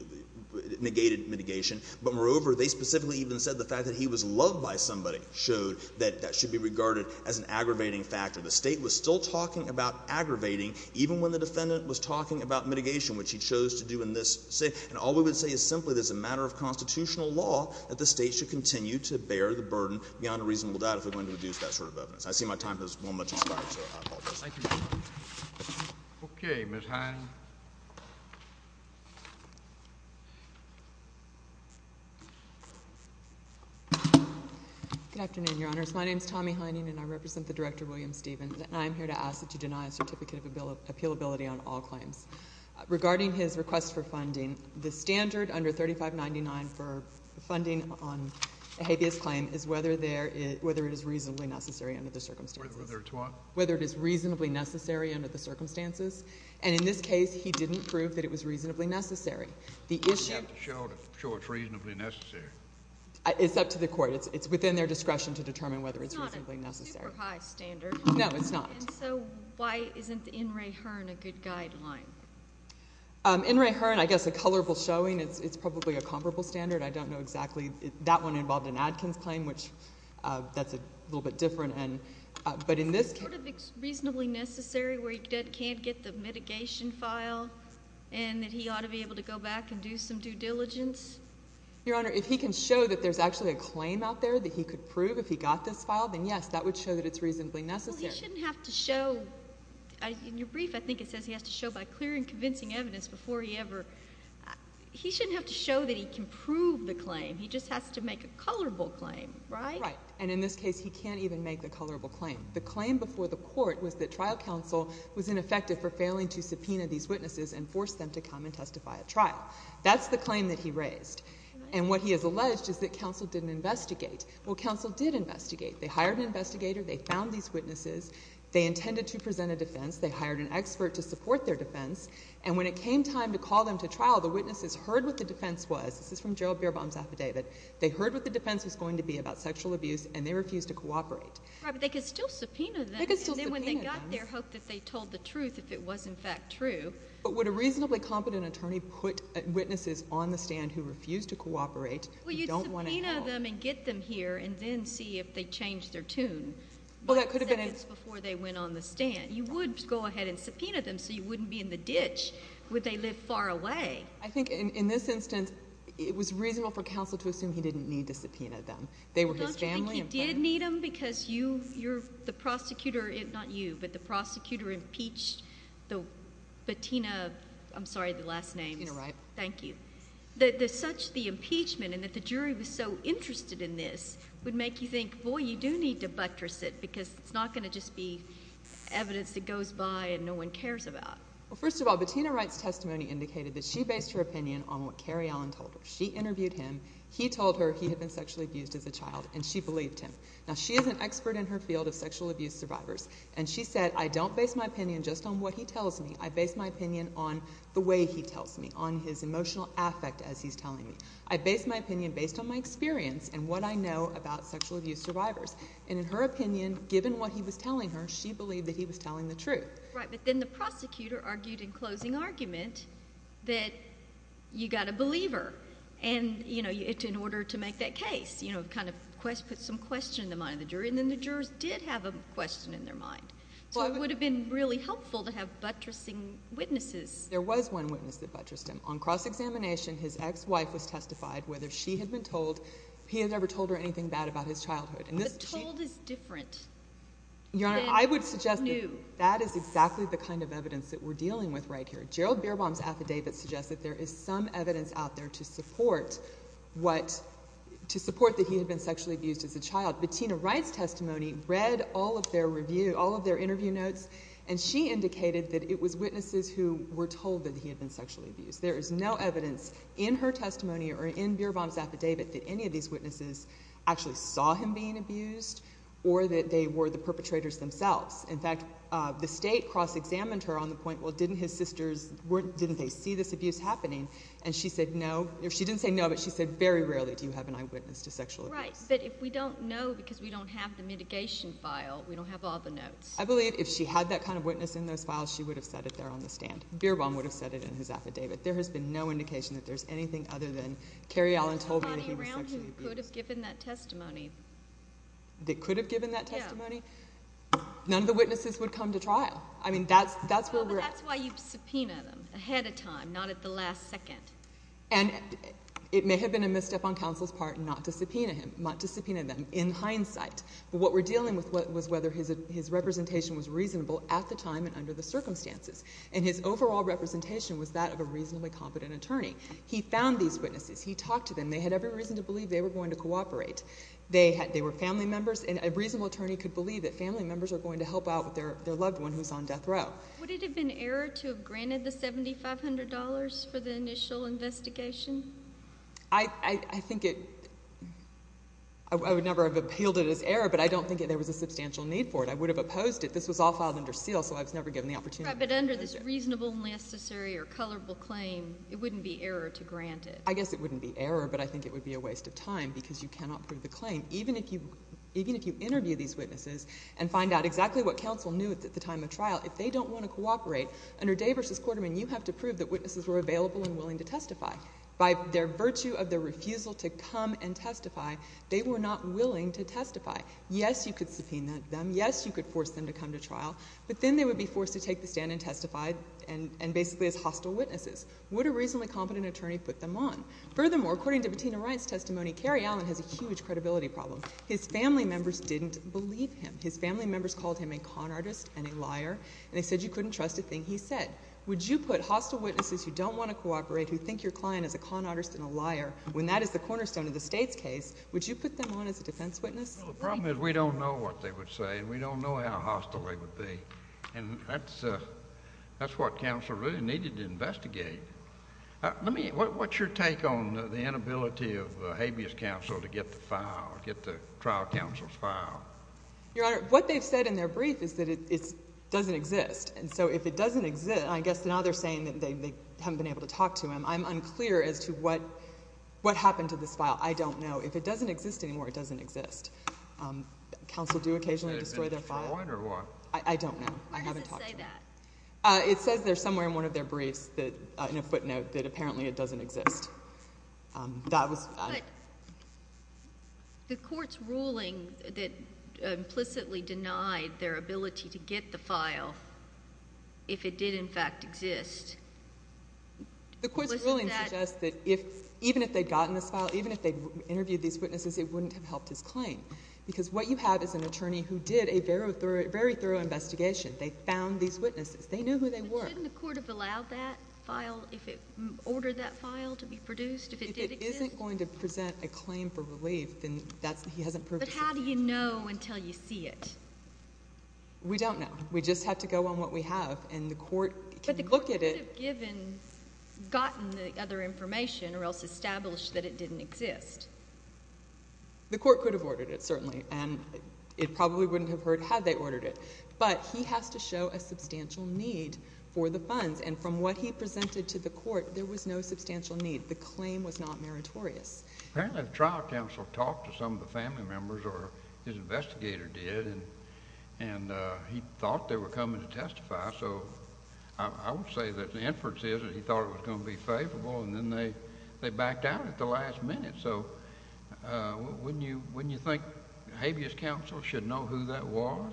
negated mitigation, but moreover, they specifically even said the fact that he was loved by somebody showed that that should be regarded as an aggravating factor. The State was still talking about aggravating, even when the defendant was talking about mitigation, which he chose to do in this state. And all we would say is simply that it's a matter of constitutional law that the State should continue to bear the burden beyond a reasonable doubt if we're going to reduce that sort of evidence. I see my time has well and much expired, so I apologize. Thank you, Mr. Hine. Okay, Ms. Hine. Good afternoon, Your Honors. My name's Tommy Hine, and I represent the Director, William Stevens, and I'm here to ask that you deny a certificate of appealability on all claims. Regarding his request for funding, the standard under 3599 for funding on a habeas claim is whether it is reasonably necessary under the circumstances. Whether it's what? Whether it is reasonably necessary under the circumstances. And in this case, he didn't prove that it was reasonably necessary. The issue— We have to show it's reasonably necessary. It's up to the court. It's within their discretion to determine whether it's reasonably necessary. It's not a super high standard. No, it's not. And so, why isn't the N. Ray Hearn a good guideline? N. Ray Hearn, I guess a colorful showing, it's probably a comparable standard. I don't know exactly—that one involved an Adkins claim, which that's a little bit different, and—but in this case— Is it sort of reasonably necessary where he can't get the mitigation file and that he ought to be able to go back and do some due diligence? Your Honor, if he can show that there's actually a claim out there that he could prove if he got this file, then yes, that would show that it's reasonably necessary. Well, he shouldn't have to show—in your brief, I think it says he has to show by clear and convincing evidence before he ever—he shouldn't have to show that he can prove the claim. He just has to make a colorable claim, right? Right. And in this case, he can't even make the colorable claim. The claim before the court was that trial counsel was ineffective for failing to subpoena these witnesses and force them to come and testify at trial. That's the claim that he raised. And what he has alleged is that counsel didn't investigate. Well, counsel did investigate. They hired an investigator. They found these witnesses. They intended to present a defense. They hired an expert to support their defense. And when it came time to call them to trial, the witnesses heard what the defense was. This is from Joe Bierbaum's affidavit. They heard what the defense was going to be about sexual abuse, and they refused to cooperate. Right, but they could still subpoena them. They could still subpoena them. And then when they got there, hoped that they told the truth if it was, in fact, true. But would a reasonably competent attorney put witnesses on the stand who refused to cooperate, who don't want to help? Well, you could go ahead and subpoena them and get them here, and then see if they changed their tune. Well, that could have been... What seconds before they went on the stand? You would go ahead and subpoena them, so you wouldn't be in the ditch, would they live far away? I think in this instance, it was reasonable for counsel to assume he didn't need to subpoena them. They were his family. Don't you think he did need them because you, the prosecutor, not you, but the prosecutor impeached the Bettina, I'm sorry, the last name. Bettina Wright. Thank you. Do you think that such the impeachment and that the jury was so interested in this would make you think, boy, you do need to buttress it because it's not going to just be evidence that goes by and no one cares about? Well, first of all, Bettina Wright's testimony indicated that she based her opinion on what Cary Allen told her. She interviewed him. He told her he had been sexually abused as a child, and she believed him. Now, she is an expert in her field of sexual abuse survivors, and she said, I don't base my opinion just on what he tells me. I base my opinion on the way he tells me, on his emotional affect as he's telling me. I base my opinion based on my experience and what I know about sexual abuse survivors. And in her opinion, given what he was telling her, she believed that he was telling the truth. Right. But then the prosecutor argued in closing argument that you got to believe her in order to make that case, kind of put some question in the mind of the jury, and then the jurors did have a question in their mind. So it would have been really helpful to have buttressing witnesses. There was one witness that buttressed him. On cross-examination, his ex-wife was testified whether she had been told he had ever told her anything bad about his childhood. But told is different than knew. I would suggest that that is exactly the kind of evidence that we're dealing with right here. Gerald Bierbaum's affidavit suggests that there is some evidence out there to support that he had been sexually abused as a child. Bettina Wright's testimony read all of their interview notes, and she indicated that it was witnesses who were told that he had been sexually abused. There is no evidence in her testimony or in Bierbaum's affidavit that any of these witnesses actually saw him being abused or that they were the perpetrators themselves. In fact, the state cross-examined her on the point, well, didn't his sisters, didn't they see this abuse happening? And she said no. She didn't say no, but she said very rarely do you have an eyewitness to sexual abuse. Right. But if we don't know because we don't have the mitigation file, we don't have all the notes. I believe if she had that kind of witness in those files, she would have said it there on the stand. Bierbaum would have said it in his affidavit. There has been no indication that there's anything other than Kerry Allen told me that he was sexually abused. Nobody around him could have given that testimony. They could have given that testimony? Yeah. None of the witnesses would come to trial. I mean, that's where we're at. Well, but that's why you subpoena them ahead of time, not at the last second. And it may have been a misstep on counsel's part not to subpoena him, not to subpoena them in hindsight. But what we're dealing with was whether his representation was reasonable at the time and under the circumstances. And his overall representation was that of a reasonably competent attorney. He found these witnesses. He talked to them. They had every reason to believe they were going to cooperate. They were family members, and a reasonable attorney could believe that family members are going to help out their loved one who's on death row. Would it have been error to have granted the $7,500 for the initial investigation? I think it... I would never have appealed it as error, but I don't think there was a substantial need for it. I would have opposed it. This was all filed under seal, so I was never given the opportunity. Right, but under this reasonable and necessary or colorable claim, it wouldn't be error to grant it. I guess it wouldn't be error, but I think it would be a waste of time because you cannot prove the claim. Even if you interview these witnesses and find out exactly what counsel knew at the time of trial, if they don't want to cooperate, under Day v. Quarterman, you have to prove that witnesses were available and willing to testify. By their virtue of their refusal to come and testify, they were not willing to testify. Yes, you could subpoena them. Yes, you could force them to come to trial, but then they would be forced to take the stand and testify and basically as hostile witnesses. Would a reasonably competent attorney put them on? Furthermore, according to Bettina Wright's testimony, Cary Allen has a huge credibility problem. His family members didn't believe him. His family members called him a con artist and a liar, and they said you couldn't trust a thing he said. Would you put hostile witnesses who don't want to cooperate, who think your client is a con artist and a liar, when that is the cornerstone of the State's case, would you put them on as a defense witness? No, the problem is we don't know what they would say, and we don't know how hostile they would be, and that's what counsel really needed to investigate. What's your take on the inability of habeas counsel to get the trial counsel's file? Your Honor, what they've said in their brief is that it doesn't exist, and so if it doesn't exist, I guess now they're saying that they haven't been able to talk to him. I'm unclear as to what happened to this file. I don't know. If it doesn't exist anymore, it doesn't exist. Counsel do occasionally destroy their file. I don't know. I haven't talked to them. Where does it say that? It says there somewhere in one of their briefs, in a footnote, that apparently it doesn't exist. But the Court's ruling that implicitly denied their ability to get the file, if it did in fact exist, wasn't that— The Court's ruling suggests that even if they'd gotten this file, even if they'd interviewed these witnesses, it wouldn't have helped his claim, because what you have is an attorney who did a very thorough investigation. They found these witnesses. They knew who they were. So wouldn't the Court have allowed that file, if it ordered that file to be produced, if it did exist? If it isn't going to present a claim for relief, then that's—he hasn't proved it. But how do you know until you see it? We don't know. We just have to go on what we have, and the Court can look at it— But the Court could have given—gotten the other information, or else established that it didn't exist. The Court could have ordered it, certainly, and it probably wouldn't have heard had they the funds. And from what he presented to the Court, there was no substantial need. The claim was not meritorious. Apparently, the trial counsel talked to some of the family members, or his investigator did, and he thought they were coming to testify, so I would say that the inference is that he thought it was going to be favorable, and then they backed out at the last minute. So wouldn't you think habeas counsel should know who that was?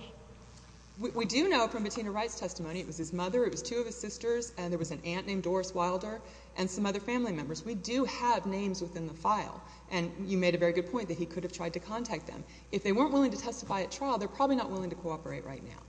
We do know from Bettina Wright's testimony—it was his mother. It was two of his sisters, and there was an aunt named Doris Wilder, and some other family members. We do have names within the file, and you made a very good point that he could have tried to contact them. If they weren't willing to testify at trial, they're probably not willing to cooperate right now.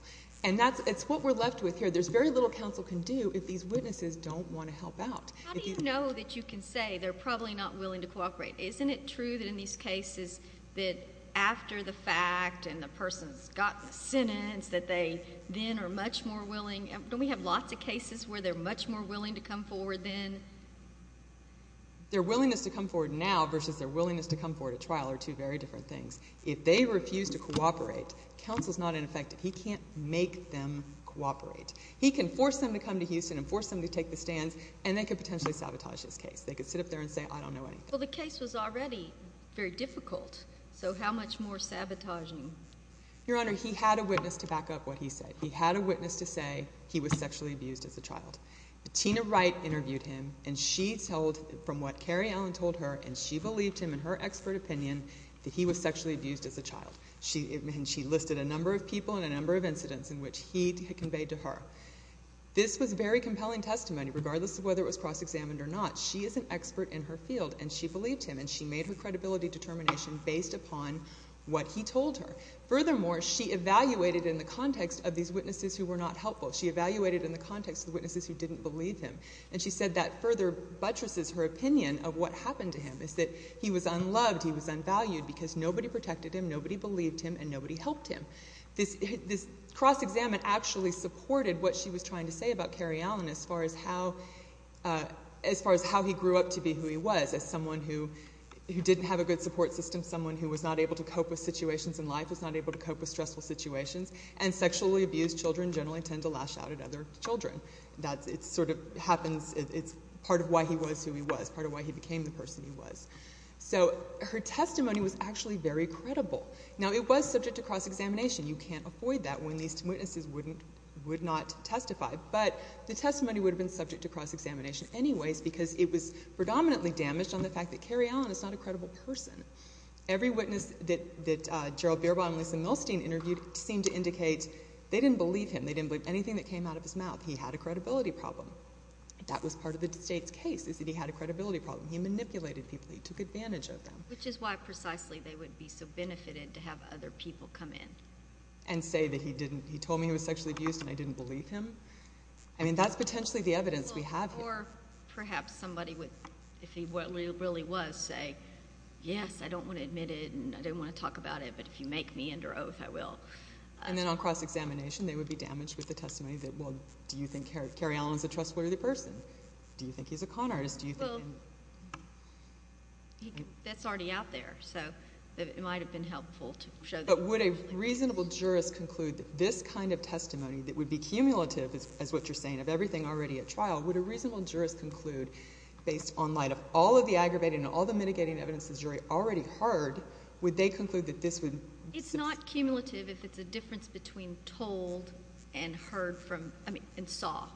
And that's—it's what we're left with here. There's very little counsel can do if these witnesses don't want to help out. How do you know that you can say they're probably not willing to cooperate? Isn't it true that in these cases that after the fact and the person's gotten the sentence that they then are much more willing—don't we have lots of cases where they're much more willing to come forward then? Their willingness to come forward now versus their willingness to come forward at trial are two very different things. If they refuse to cooperate, counsel's not ineffective. He can't make them cooperate. He can force them to come to Houston and force them to take the stands, and they could potentially sabotage this case. They could sit up there and say, I don't know anything. Well, the case was already very difficult, so how much more sabotaging? Your Honor, he had a witness to back up what he said. He had a witness to say he was sexually abused as a child. Tina Wright interviewed him, and she told—from what Carrie Allen told her, and she believed him in her expert opinion that he was sexually abused as a child. She listed a number of people and a number of incidents in which he conveyed to her. This was very compelling testimony, regardless of whether it was cross-examined or not. She is an expert in her field, and she believed him, and she made her credibility determination based upon what he told her. Furthermore, she evaluated in the context of these witnesses who were not helpful. She evaluated in the context of the witnesses who didn't believe him, and she said that further buttresses her opinion of what happened to him, is that he was unloved, he was unvalued, because nobody protected him, nobody believed him, and nobody helped him. This cross-examination actually supported what she was trying to say about Carrie Allen as far as how he grew up to be who he was, as someone who didn't have a good support system, someone who was not able to cope with situations in life, was not able to cope with stressful situations, and sexually abused children generally tend to lash out at other children. It sort of happens—it's part of why he was who he was, part of why he became the person he was. So her testimony was actually very credible. Now it was subject to cross-examination. You can't avoid that when these witnesses would not testify, but the testimony would have been subject to cross-examination anyways, because it was predominantly damaged on the Every witness that Gerald Beerbohm and Lisa Milstein interviewed seemed to indicate they didn't believe him. They didn't believe anything that came out of his mouth. He had a credibility problem. That was part of the state's case, is that he had a credibility problem. He manipulated people. He took advantage of them. Which is why, precisely, they would be so benefited to have other people come in. And say that he didn't—he told me he was sexually abused and I didn't believe him. I mean, that's potentially the evidence we have here. Or perhaps somebody would, if he really was, say, yes, I don't want to admit it and I don't want to talk about it, but if you make me under oath, I will. And then on cross-examination, they would be damaged with the testimony that, well, do you think Kerry Allen's a trustworthy person? Do you think he's a con artist? Do you think— Well, that's already out there, so it might have been helpful to show that. But would a reasonable jurist conclude that this kind of testimony that would be cumulative, as what you're saying, of everything already at trial, would a reasonable jurist conclude, based on light of all of the aggravating and all the mitigating evidence the jury already heard, would they conclude that this would— It's not cumulative if it's a difference between told and heard from—I mean, and saw.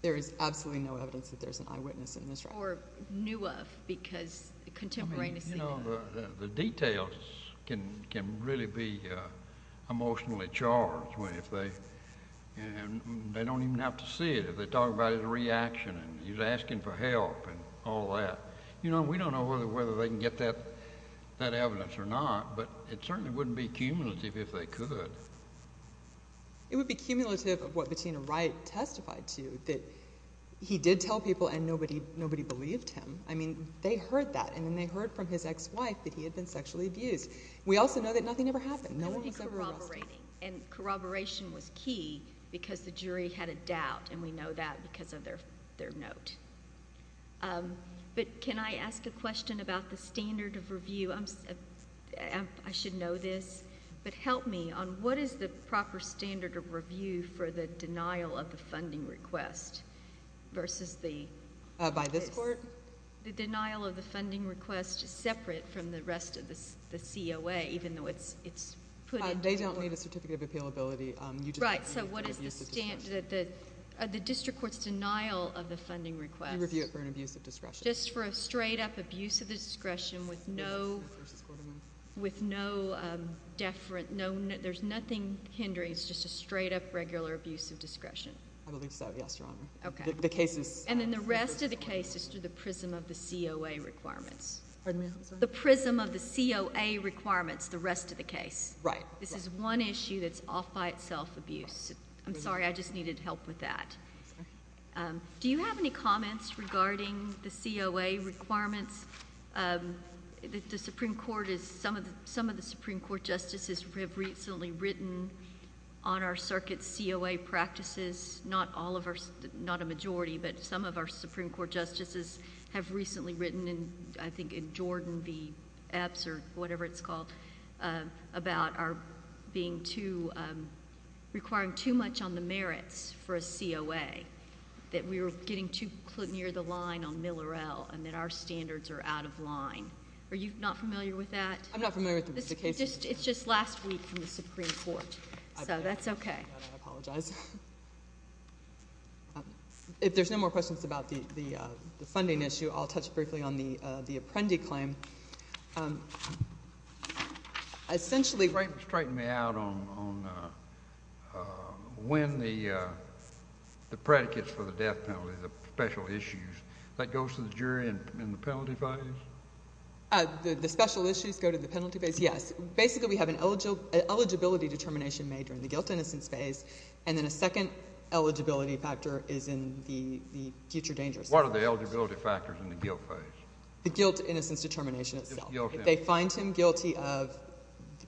There is absolutely no evidence that there's an eyewitness in this trial. Or knew of, because contemporaneously— The details can really be emotionally charged if they—and they don't even have to see it. If they talk about his reaction and he's asking for help and all that. You know, we don't know whether they can get that evidence or not, but it certainly wouldn't be cumulative if they could. It would be cumulative of what Bettina Wright testified to, that he did tell people and nobody believed him. I mean, they heard that, and then they heard from his ex-wife that he had been sexually abused. We also know that nothing ever happened. No one was ever arrested. I was only corroborating. And corroboration was key because the jury had a doubt, and we know that because of their note. But can I ask a question about the standard of review? I should know this, but help me on what is the proper standard of review for the denial of the funding request versus the— By this court? The denial of the funding request is separate from the rest of the COA, even though it's put in— They don't need a certificate of appealability. You just— Right. So what is the—the district court's denial of the funding request— You review it for an abuse of discretion. Just for a straight-up abuse of discretion with no deference—there's nothing hindering. It's just a straight-up, regular abuse of discretion. I believe so. Yes, Your Honor. Okay. The case is— And then the rest of the case is through the prism of the COA requirements. Pardon me? I'm sorry? The prism of the COA requirements, the rest of the case. Right. This is one issue that's off by itself abuse. I'm sorry. I just needed help with that. Do you have any comments regarding the COA requirements? The Supreme Court is—some of the Supreme Court justices have recently written on our Supreme Court justices have recently written in, I think, in Jordan v. Epps, or whatever it's called, about our being too—requiring too much on the merits for a COA, that we were getting too near the line on Miller-El, and that our standards are out of line. Are you not familiar with that? I'm not familiar with the rest of the case. It's just last week from the Supreme Court. So that's okay. I apologize. If there's no more questions about the funding issue, I'll touch briefly on the Apprendi claim. Essentially— Straighten me out on when the predicates for the death penalty, the special issues, that goes to the jury in the penalty phase? The special issues go to the penalty phase? Yes. Basically, we have an eligibility determination made during the guilt-innocence phase, and then a second eligibility factor is in the future danger phase. What are the eligibility factors in the guilt phase? The guilt-innocence determination itself. If they find him guilty of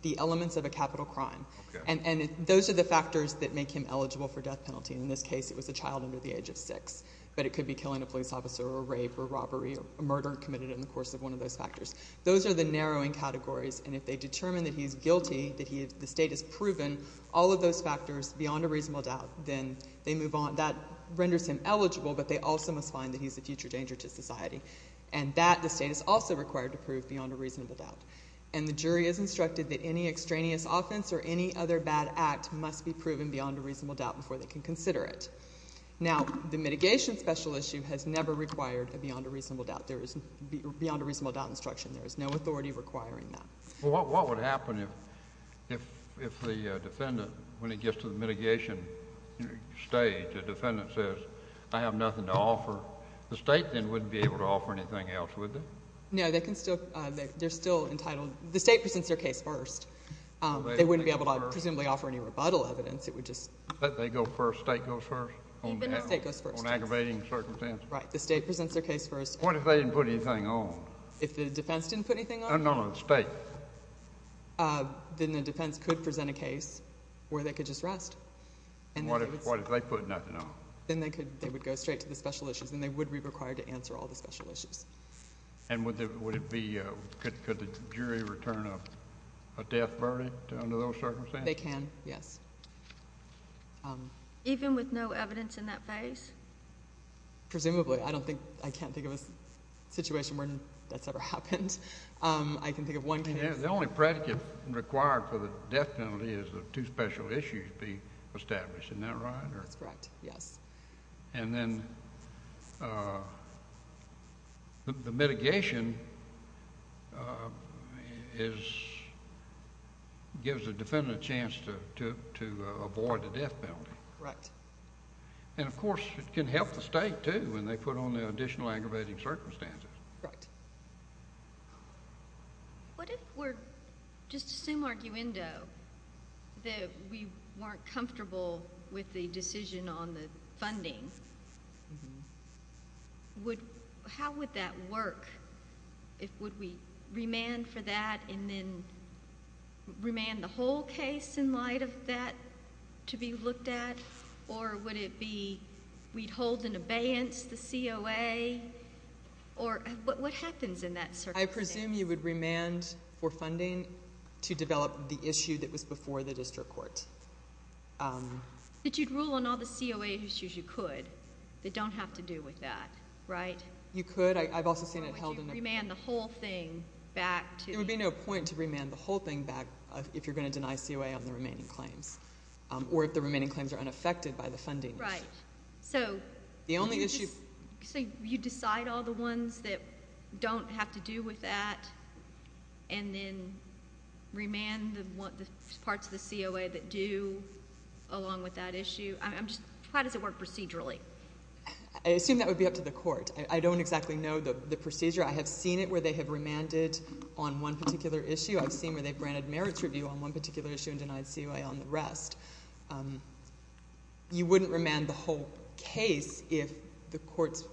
the elements of a capital crime. And those are the factors that make him eligible for death penalty. In this case, it was a child under the age of 6. But it could be killing a police officer, or rape, or robbery, or murder committed in the course of one of those factors. Those are the narrowing categories. And if they determine that he's guilty, that the state has proven all of those factors beyond a reasonable doubt, then they move on. That renders him eligible, but they also must find that he's a future danger to society. And that, the state is also required to prove beyond a reasonable doubt. And the jury is instructed that any extraneous offense or any other bad act must be proven beyond a reasonable doubt before they can consider it. Now, the mitigation special issue has never required a beyond a reasonable doubt. There is beyond a reasonable doubt instruction. There is no authority requiring that. Well, what would happen if the defendant, when it gets to the mitigation stage, the defendant says, I have nothing to offer. The state then wouldn't be able to offer anything else, would they? No, they can still, they're still entitled. The state presents their case first. They wouldn't be able to presumably offer any rebuttal evidence. It would just. If they go first, state goes first? Even if state goes first. On aggravating circumstances. Right, the state presents their case first. What if they didn't put anything on? If the defense didn't put anything on? No, no, the state. Then the defense could present a case where they could just rest. And what if they put nothing on? Then they could, they would go straight to the special issues and they would be required to answer all the special issues. And would it be, could the jury return a death verdict under those circumstances? They can, yes. Even with no evidence in that phase? Presumably. I don't think, I can't think of a situation where that's ever happened. I can think of one case. The only predicate required for the death penalty is that two special issues be established. Isn't that right? That's correct, yes. And then the mitigation is, gives the defendant a chance to avoid the death penalty. Correct. And of course, it can help the state, too, when they put on the additional aggravating circumstances. Right. What if we're, just assume arguendo, that we weren't comfortable with the decision on the funding, would, how would that work? If, would we remand for that and then remand the whole case in light of that to be looked at? Or would it be, we'd hold in abeyance the COA? Or, what happens in that circumstance? I presume you would remand for funding to develop the issue that was before the district court. That you'd rule on all the COA issues you could, that don't have to do with that, right? You could. I've also seen it held in abeyance. Or would you remand the whole thing back to? There would be no point to remand the whole thing back if you're going to deny COA on the remaining claims. Or if the remaining claims are unaffected by the funding. Right. So. The only issue. So you decide all the ones that don't have to do with that. And then remand the parts of the COA that do along with that issue. I'm just, how does it work procedurally? I assume that would be up to the court. I don't exactly know the procedure. I have seen it where they have remanded on one particular issue. I've seen where they've branded merits review on one particular issue and denied COA on the rest. You wouldn't remand the whole case if the court's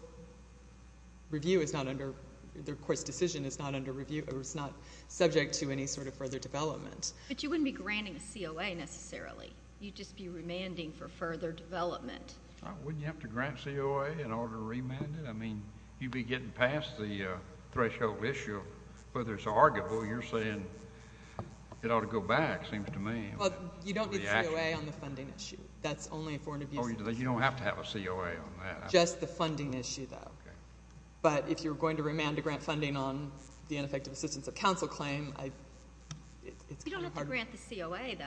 review is not under, the court's decision is not under review or is not subject to any sort of further development. But you wouldn't be granting a COA necessarily. You'd just be remanding for further development. Wouldn't you have to grant COA in order to remand it? I mean, you'd be getting past the threshold issue. Whether it's arguable, you're saying it ought to go back, seems to me. Well, you don't need COA on the funding issue. That's only for an abuse. Oh, you don't have to have a COA on that. Just the funding issue, though. But if you're going to remand to grant funding on the ineffective assistance of counsel claim, I, it's. You don't have to grant the COA, though.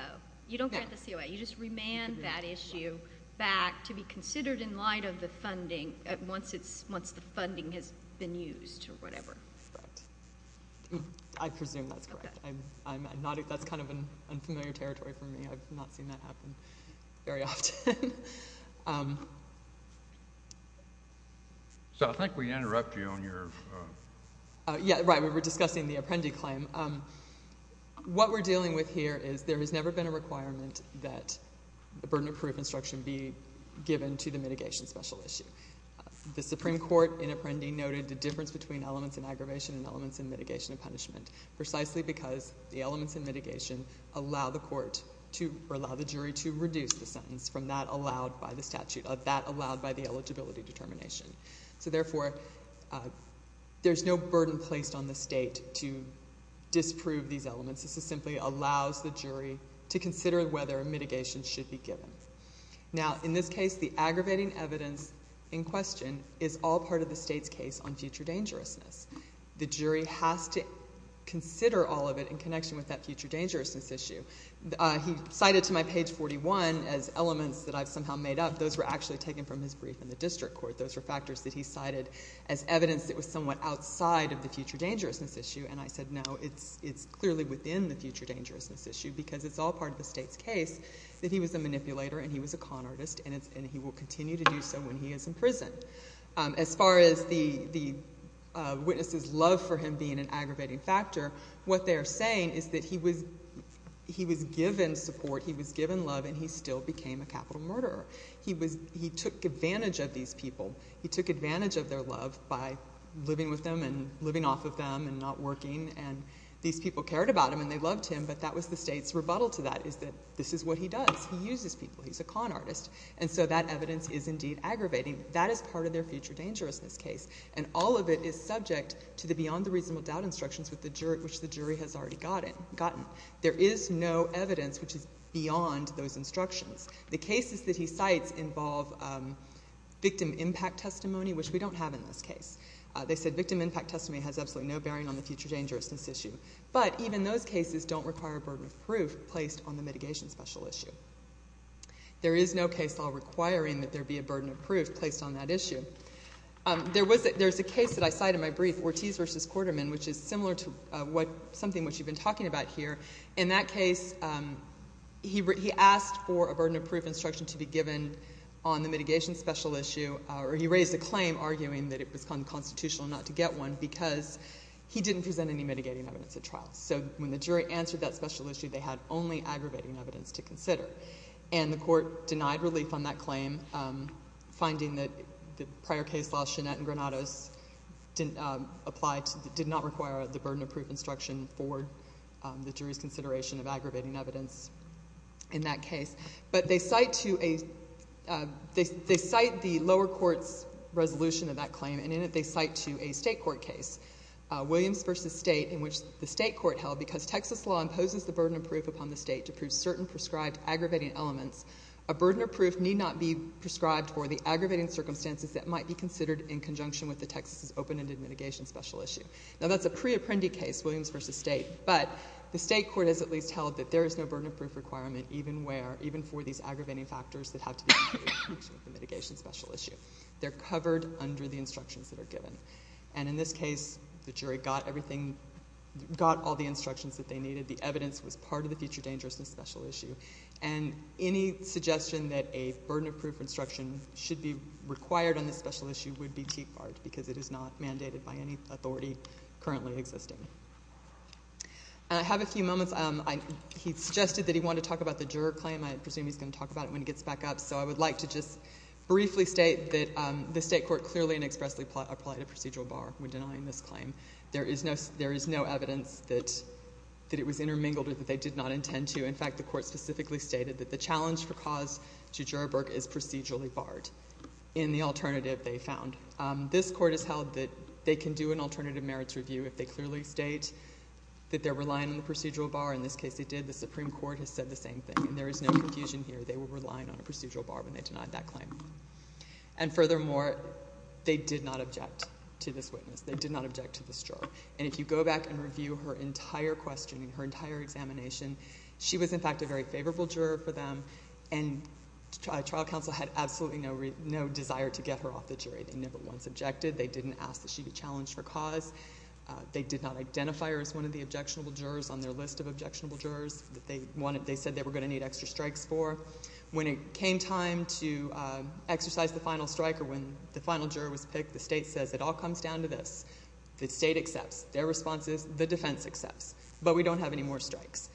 You don't grant the COA. You just remand that issue back to be considered in light of the funding once it's, once the funding has been used or whatever. Correct. I presume that's correct. I'm, I'm not, that's kind of an unfamiliar territory for me. I've not seen that happen very often. So I think we interrupt you on your. Yeah, right. We were discussing the Apprendi claim. What we're dealing with here is there has never been a requirement that the burden of proof instruction be given to the mitigation special issue. The Supreme Court in Apprendi noted the difference between elements in aggravation and elements in mitigation and punishment. Precisely because the elements in mitigation allow the court to, or allow the jury to reduce the sentence from that allowed by the statute, that allowed by the eligibility determination. So therefore, there's no burden placed on the state to disprove these elements. This is simply allows the jury to consider whether a mitigation should be given. Now, in this case, the aggravating evidence in question is all part of the state's case on future dangerousness. The jury has to consider all of it in connection with that future dangerousness issue. He cited to my page 41 as elements that I've somehow made up. Those were actually taken from his brief in the district court. Those were factors that he cited as evidence that was somewhat outside of the future dangerousness issue, and I said, no, it's, it's clearly within the future dangerousness issue because it's all part of the state's case that he was a manipulator and he was a con artist, and he will continue to do so when he is in prison. As far as the, the witness's love for him being an aggravating factor, what they're saying is that he was, he was given support, he was given love, and he still became a capital murderer. He was, he took advantage of these people. He took advantage of their love by living with them and living off of them and not working, and these people cared about him and they loved him, but that was the state's rebuttal to that, is that this is what he does. He uses people. He's a con artist, and so that evidence is indeed aggravating. That is part of their future dangerousness case, and all of it is subject to the beyond the reasonable doubt instructions which the jury has already gotten. There is no evidence which is beyond those instructions. The cases that he cites involve victim impact testimony, which we don't have in this case. They said victim impact testimony has absolutely no bearing on the future dangerousness issue. But even those cases don't require a burden of proof placed on the mitigation special issue. There is no case law requiring that there be a burden of proof placed on that issue. There was a, there's a case that I cite in my brief, Ortiz versus Quarterman, which is similar to what, something which you've been talking about here. In that case he, he asked for a burden of proof instruction to be given on the mitigation special issue or he raised a claim arguing that it was unconstitutional not to get one because he didn't present any mitigating evidence at trial. So when the jury answered that special issue, they had only aggravating evidence to consider. And the court denied relief on that claim, finding that the prior case law, Shenette and Granados, didn't apply to, did not require the burden of proof instruction for the jury's consideration of aggravating evidence in that case. But they cite to a, they, they cite the lower court's resolution of that claim. And in it they cite to a state court case, Williams versus State, in which the state court held, because Texas law imposes the burden of proof upon the state to prove certain prescribed aggravating elements. A burden of proof need not be prescribed for the aggravating circumstances that might be considered in conjunction with the Texas' open-ended mitigation special issue. Now that's a pre-apprendee case, Williams versus State, but the state court has at least held that there is no burden of proof requirement even where, even for these aggravating factors that have to do with the mitigation special issue. They're covered under the instructions that are given. And in this case, the jury got everything, got all the instructions that they needed. The evidence was part of the future dangerousness special issue. And any suggestion that a burden of proof instruction should be required on this special issue would be teak barred, because it is not mandated by any authority currently existing. I have a few moments, he suggested that he wanted to talk about the juror claim, I presume he's going to talk about it when he gets back up. So I would like to just briefly state that the state court clearly and expressly applied a procedural bar when denying this claim. There is no evidence that it was intermingled or that they did not intend to. In fact, the court specifically stated that the challenge for cause to juror work is procedurally barred. In the alternative, they found. This court has held that they can do an alternative merits review if they clearly state that they're relying on the procedural bar. In this case, they did. The Supreme Court has said the same thing. There is no confusion here. They were relying on a procedural bar when they denied that claim. And furthermore, they did not object to this witness. They did not object to this juror. And if you go back and review her entire questioning, her entire examination, she was in fact a very favorable juror for them. And trial counsel had absolutely no desire to get her off the jury. They never once objected. They didn't ask that she be challenged for cause. They did not identify her as one of the objectionable jurors on their list of objectionable jurors. They said they were going to need extra strikes for. When it came time to exercise the final strike or when the final juror was picked, the state says it all comes down to this. The state accepts. Their response is the defense accepts. But we don't have any more strikes.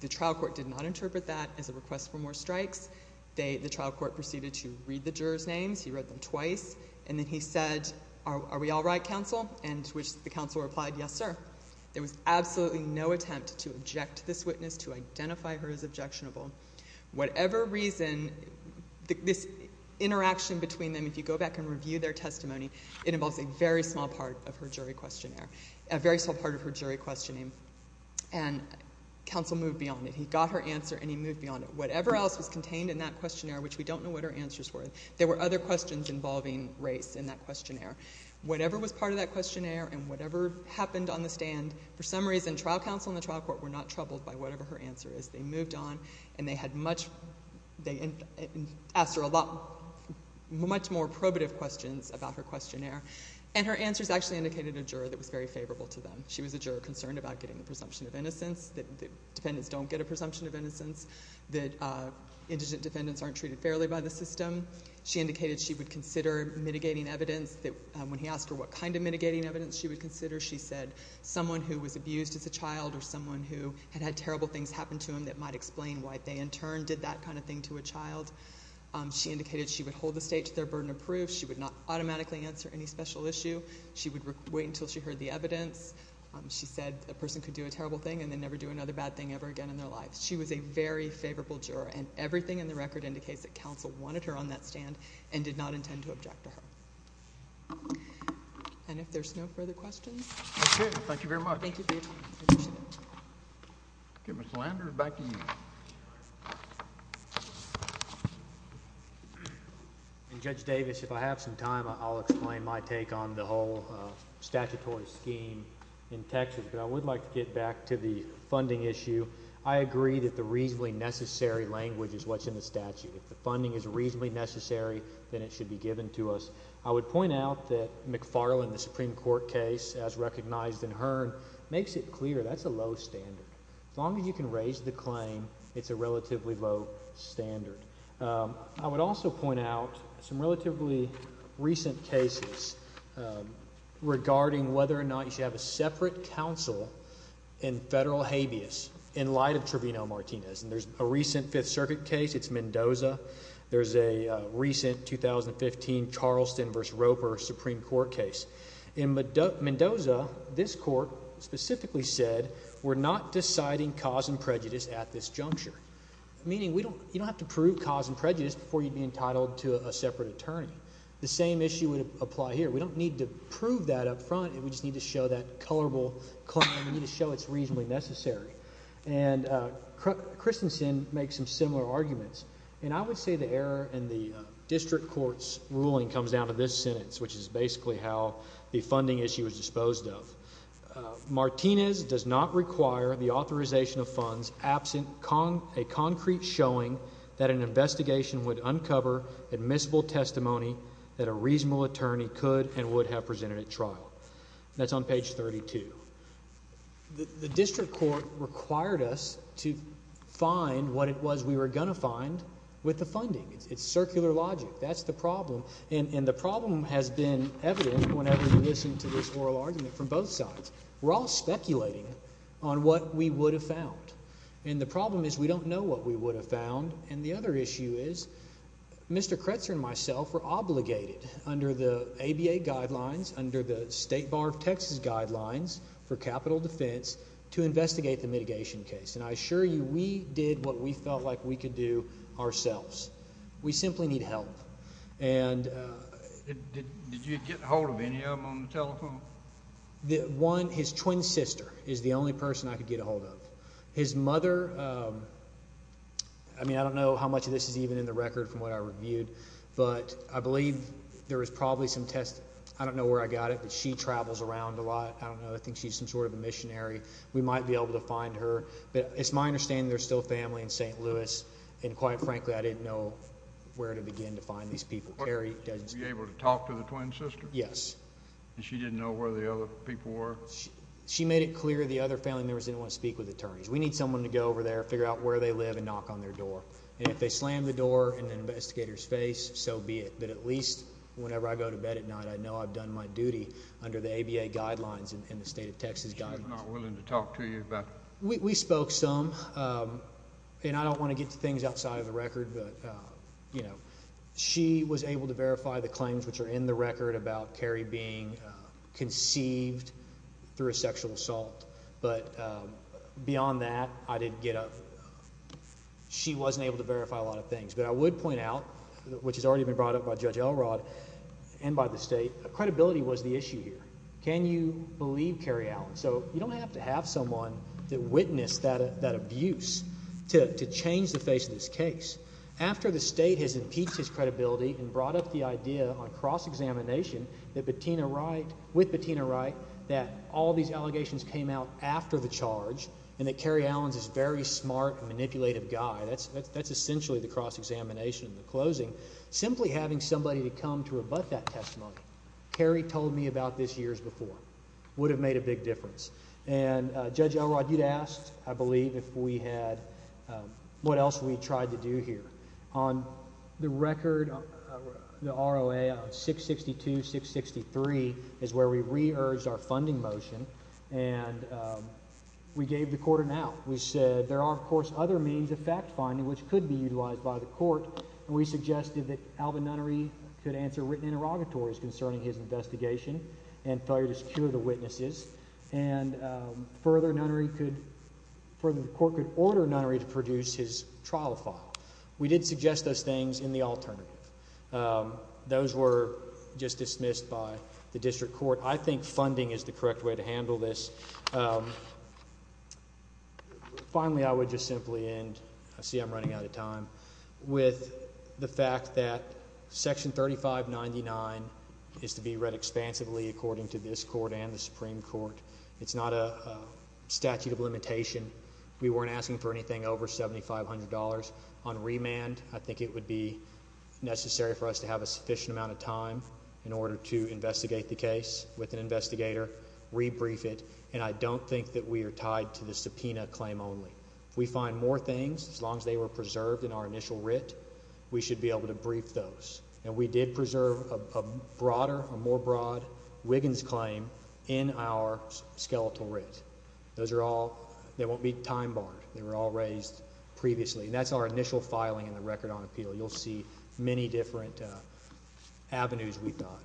The trial court did not interpret that as a request for more strikes. The trial court proceeded to read the juror's names. He read them twice. And then he said, are we all right, counsel? And to which the counsel replied, yes, sir. There was absolutely no attempt to object this witness, to identify her as objectionable. Whatever reason, this interaction between them, if you go back and review their testimony, it involves a very small part of her jury questionnaire, a very small part of her jury questioning. And counsel moved beyond it. He got her answer and he moved beyond it. Whatever else was contained in that questionnaire, which we don't know what her answers were, there were other questions involving race in that questionnaire. Whatever was part of that questionnaire and whatever happened on the stand, for some reason, trial counsel and the trial court were not troubled by whatever her answer is. They moved on and they had much, they asked her a lot, much more probative questions about her questionnaire. And her answers actually indicated a juror that was very favorable to them. She was a juror concerned about getting a presumption of innocence, that defendants don't get a presumption of innocence, that indigent defendants aren't treated fairly by the system. She indicated she would consider mitigating evidence that, when he asked her what kind of mitigating evidence she would consider, she said someone who was abused as a child or someone who had had terrible things happen to them that might explain why they, in turn, did that kind of thing to a child. She indicated she would hold the state to their burden of proof. She would not automatically answer any special issue. She would wait until she heard the evidence. She said a person could do a terrible thing and then never do another bad thing ever again in their life. She was a very favorable juror and everything in the record indicates that counsel wanted her on that stand and did not intend to object to her. And if there's no further questions. Okay, thank you very much. Thank you. Okay, Mr. Landers, back to you. Judge Davis, if I have some time, I'll explain my take on the whole statutory scheme in Texas. But I would like to get back to the funding issue. I agree that the reasonably necessary language is what's in the statute. If the funding is reasonably necessary, then it should be given to us. I would point out that McFarland, the Supreme Court case, as recognized in Hearn, makes it clear that's a low standard. As long as you can raise the claim, it's a relatively low standard. I would also point out some relatively recent cases regarding whether or not you should have a separate counsel in federal habeas in light of Trevino-Martinez. And there's a recent Fifth Circuit case, it's Mendoza. There's a recent 2015 Charleston versus Roper Supreme Court case. In Mendoza, this court specifically said, we're not deciding cause and prejudice at this juncture. Meaning you don't have to prove cause and prejudice before you'd be entitled to a separate attorney. The same issue would apply here. We don't need to prove that up front, we just need to show that colorable claim, we need to show it's reasonably necessary. And Christensen makes some similar arguments. And I would say the error in the district court's ruling comes down to this sentence, which is basically how the funding issue is disposed of. Martinez does not require the authorization of funds absent a concrete showing that an investigation would uncover admissible testimony that a reasonable attorney could and would have presented at trial. That's on page 32. The district court required us to find what it was we were going to find with the funding. It's circular logic, that's the problem. And the problem has been evident whenever we listen to this oral argument from both sides. We're all speculating on what we would have found. And the problem is we don't know what we would have found. And the other issue is, Mr. Kretzer and myself were obligated under the ABA guidelines, under the State Bar of Texas guidelines for capital defense, to investigate the mitigation case. And I assure you, we did what we felt like we could do ourselves. We simply need help. And- Did you get a hold of any of them on the telephone? His twin sister is the only person I could get a hold of. His mother, I mean, I don't know how much of this is even in the record from what I reviewed. But I believe there was probably some test, I don't know where I got it, but she travels around a lot. I don't know, I think she's some sort of a missionary. We might be able to find her. But it's my understanding there's still family in St. Louis. And quite frankly, I didn't know where to begin to find these people. Carrie doesn't speak- Were you able to talk to the twin sister? Yes. And she didn't know where the other people were? She made it clear the other family members didn't want to speak with attorneys. We need someone to go over there, figure out where they live, and knock on their door. And if they slam the door in an investigator's face, so be it. But at least whenever I go to bed at night, I know I've done my duty under the ABA guidelines and the state of Texas guidelines. She's not willing to talk to you about- We spoke some. And I don't want to get to things outside of the record. But she was able to verify the claims which are in the record about Carrie being conceived through a sexual assault. But beyond that, she wasn't able to verify a lot of things. But I would point out, which has already been brought up by Judge Elrod and by the state, credibility was the issue here. Can you believe Carrie Allen? So you don't have to have someone that witnessed that abuse to change the face of this case. After the state has impeached his credibility and brought up the idea on cross-examination with Bettina Wright, that all these allegations came out after the charge, and that Carrie Allen's this very smart and manipulative guy. That's essentially the cross-examination in the closing. Simply having somebody to come to rebut that testimony, Carrie told me about this years before, would have made a big difference. And Judge Elrod, you'd asked, I believe, if we had, what else we tried to do here. On the record, the ROA of 662, 663 is where we re-urged our funding motion. And we gave the court an out. We said there are, of course, other means of fact-finding which could be utilized by the court, and we suggested that Alvin Nunnery could answer written interrogatories concerning his investigation and failure to secure the witnesses. And further, the court could order Nunnery to produce his trial file. We did suggest those things in the alternative. Those were just dismissed by the district court. I think funding is the correct way to handle this. Finally, I would just simply end, I see I'm running out of time, with the fact that section 3599 is to be read expansively according to this court and the Supreme Court. It's not a statute of limitation. We weren't asking for anything over $7,500. On remand, I think it would be necessary for us to have a sufficient amount of time in order to investigate the case with an investigator, re-brief it. And I don't think that we are tied to the subpoena claim only. If we find more things, as long as they were preserved in our initial writ, we should be able to brief those. And we did preserve a broader, a more broad Wiggins claim in our skeletal writ. Those are all, they won't be time-barred. They were all raised previously. And that's our initial filing in the record on appeal. You'll see many different avenues, we thought.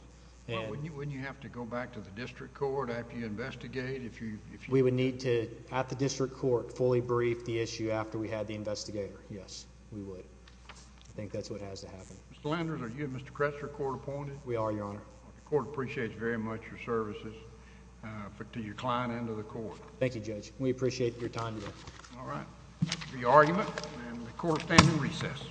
And- Wouldn't you have to go back to the district court after you investigate, if you- We would need to, at the district court, fully brief the issue after we had the investigator. Yes, we would. I think that's what has to happen. Mr. Landers, are you and Mr. Kress your court appointed? We are, Your Honor. The court appreciates very much your services to your client and to the court. Thank you, Judge. We appreciate your time today. All right. The argument, and the court stands in recess.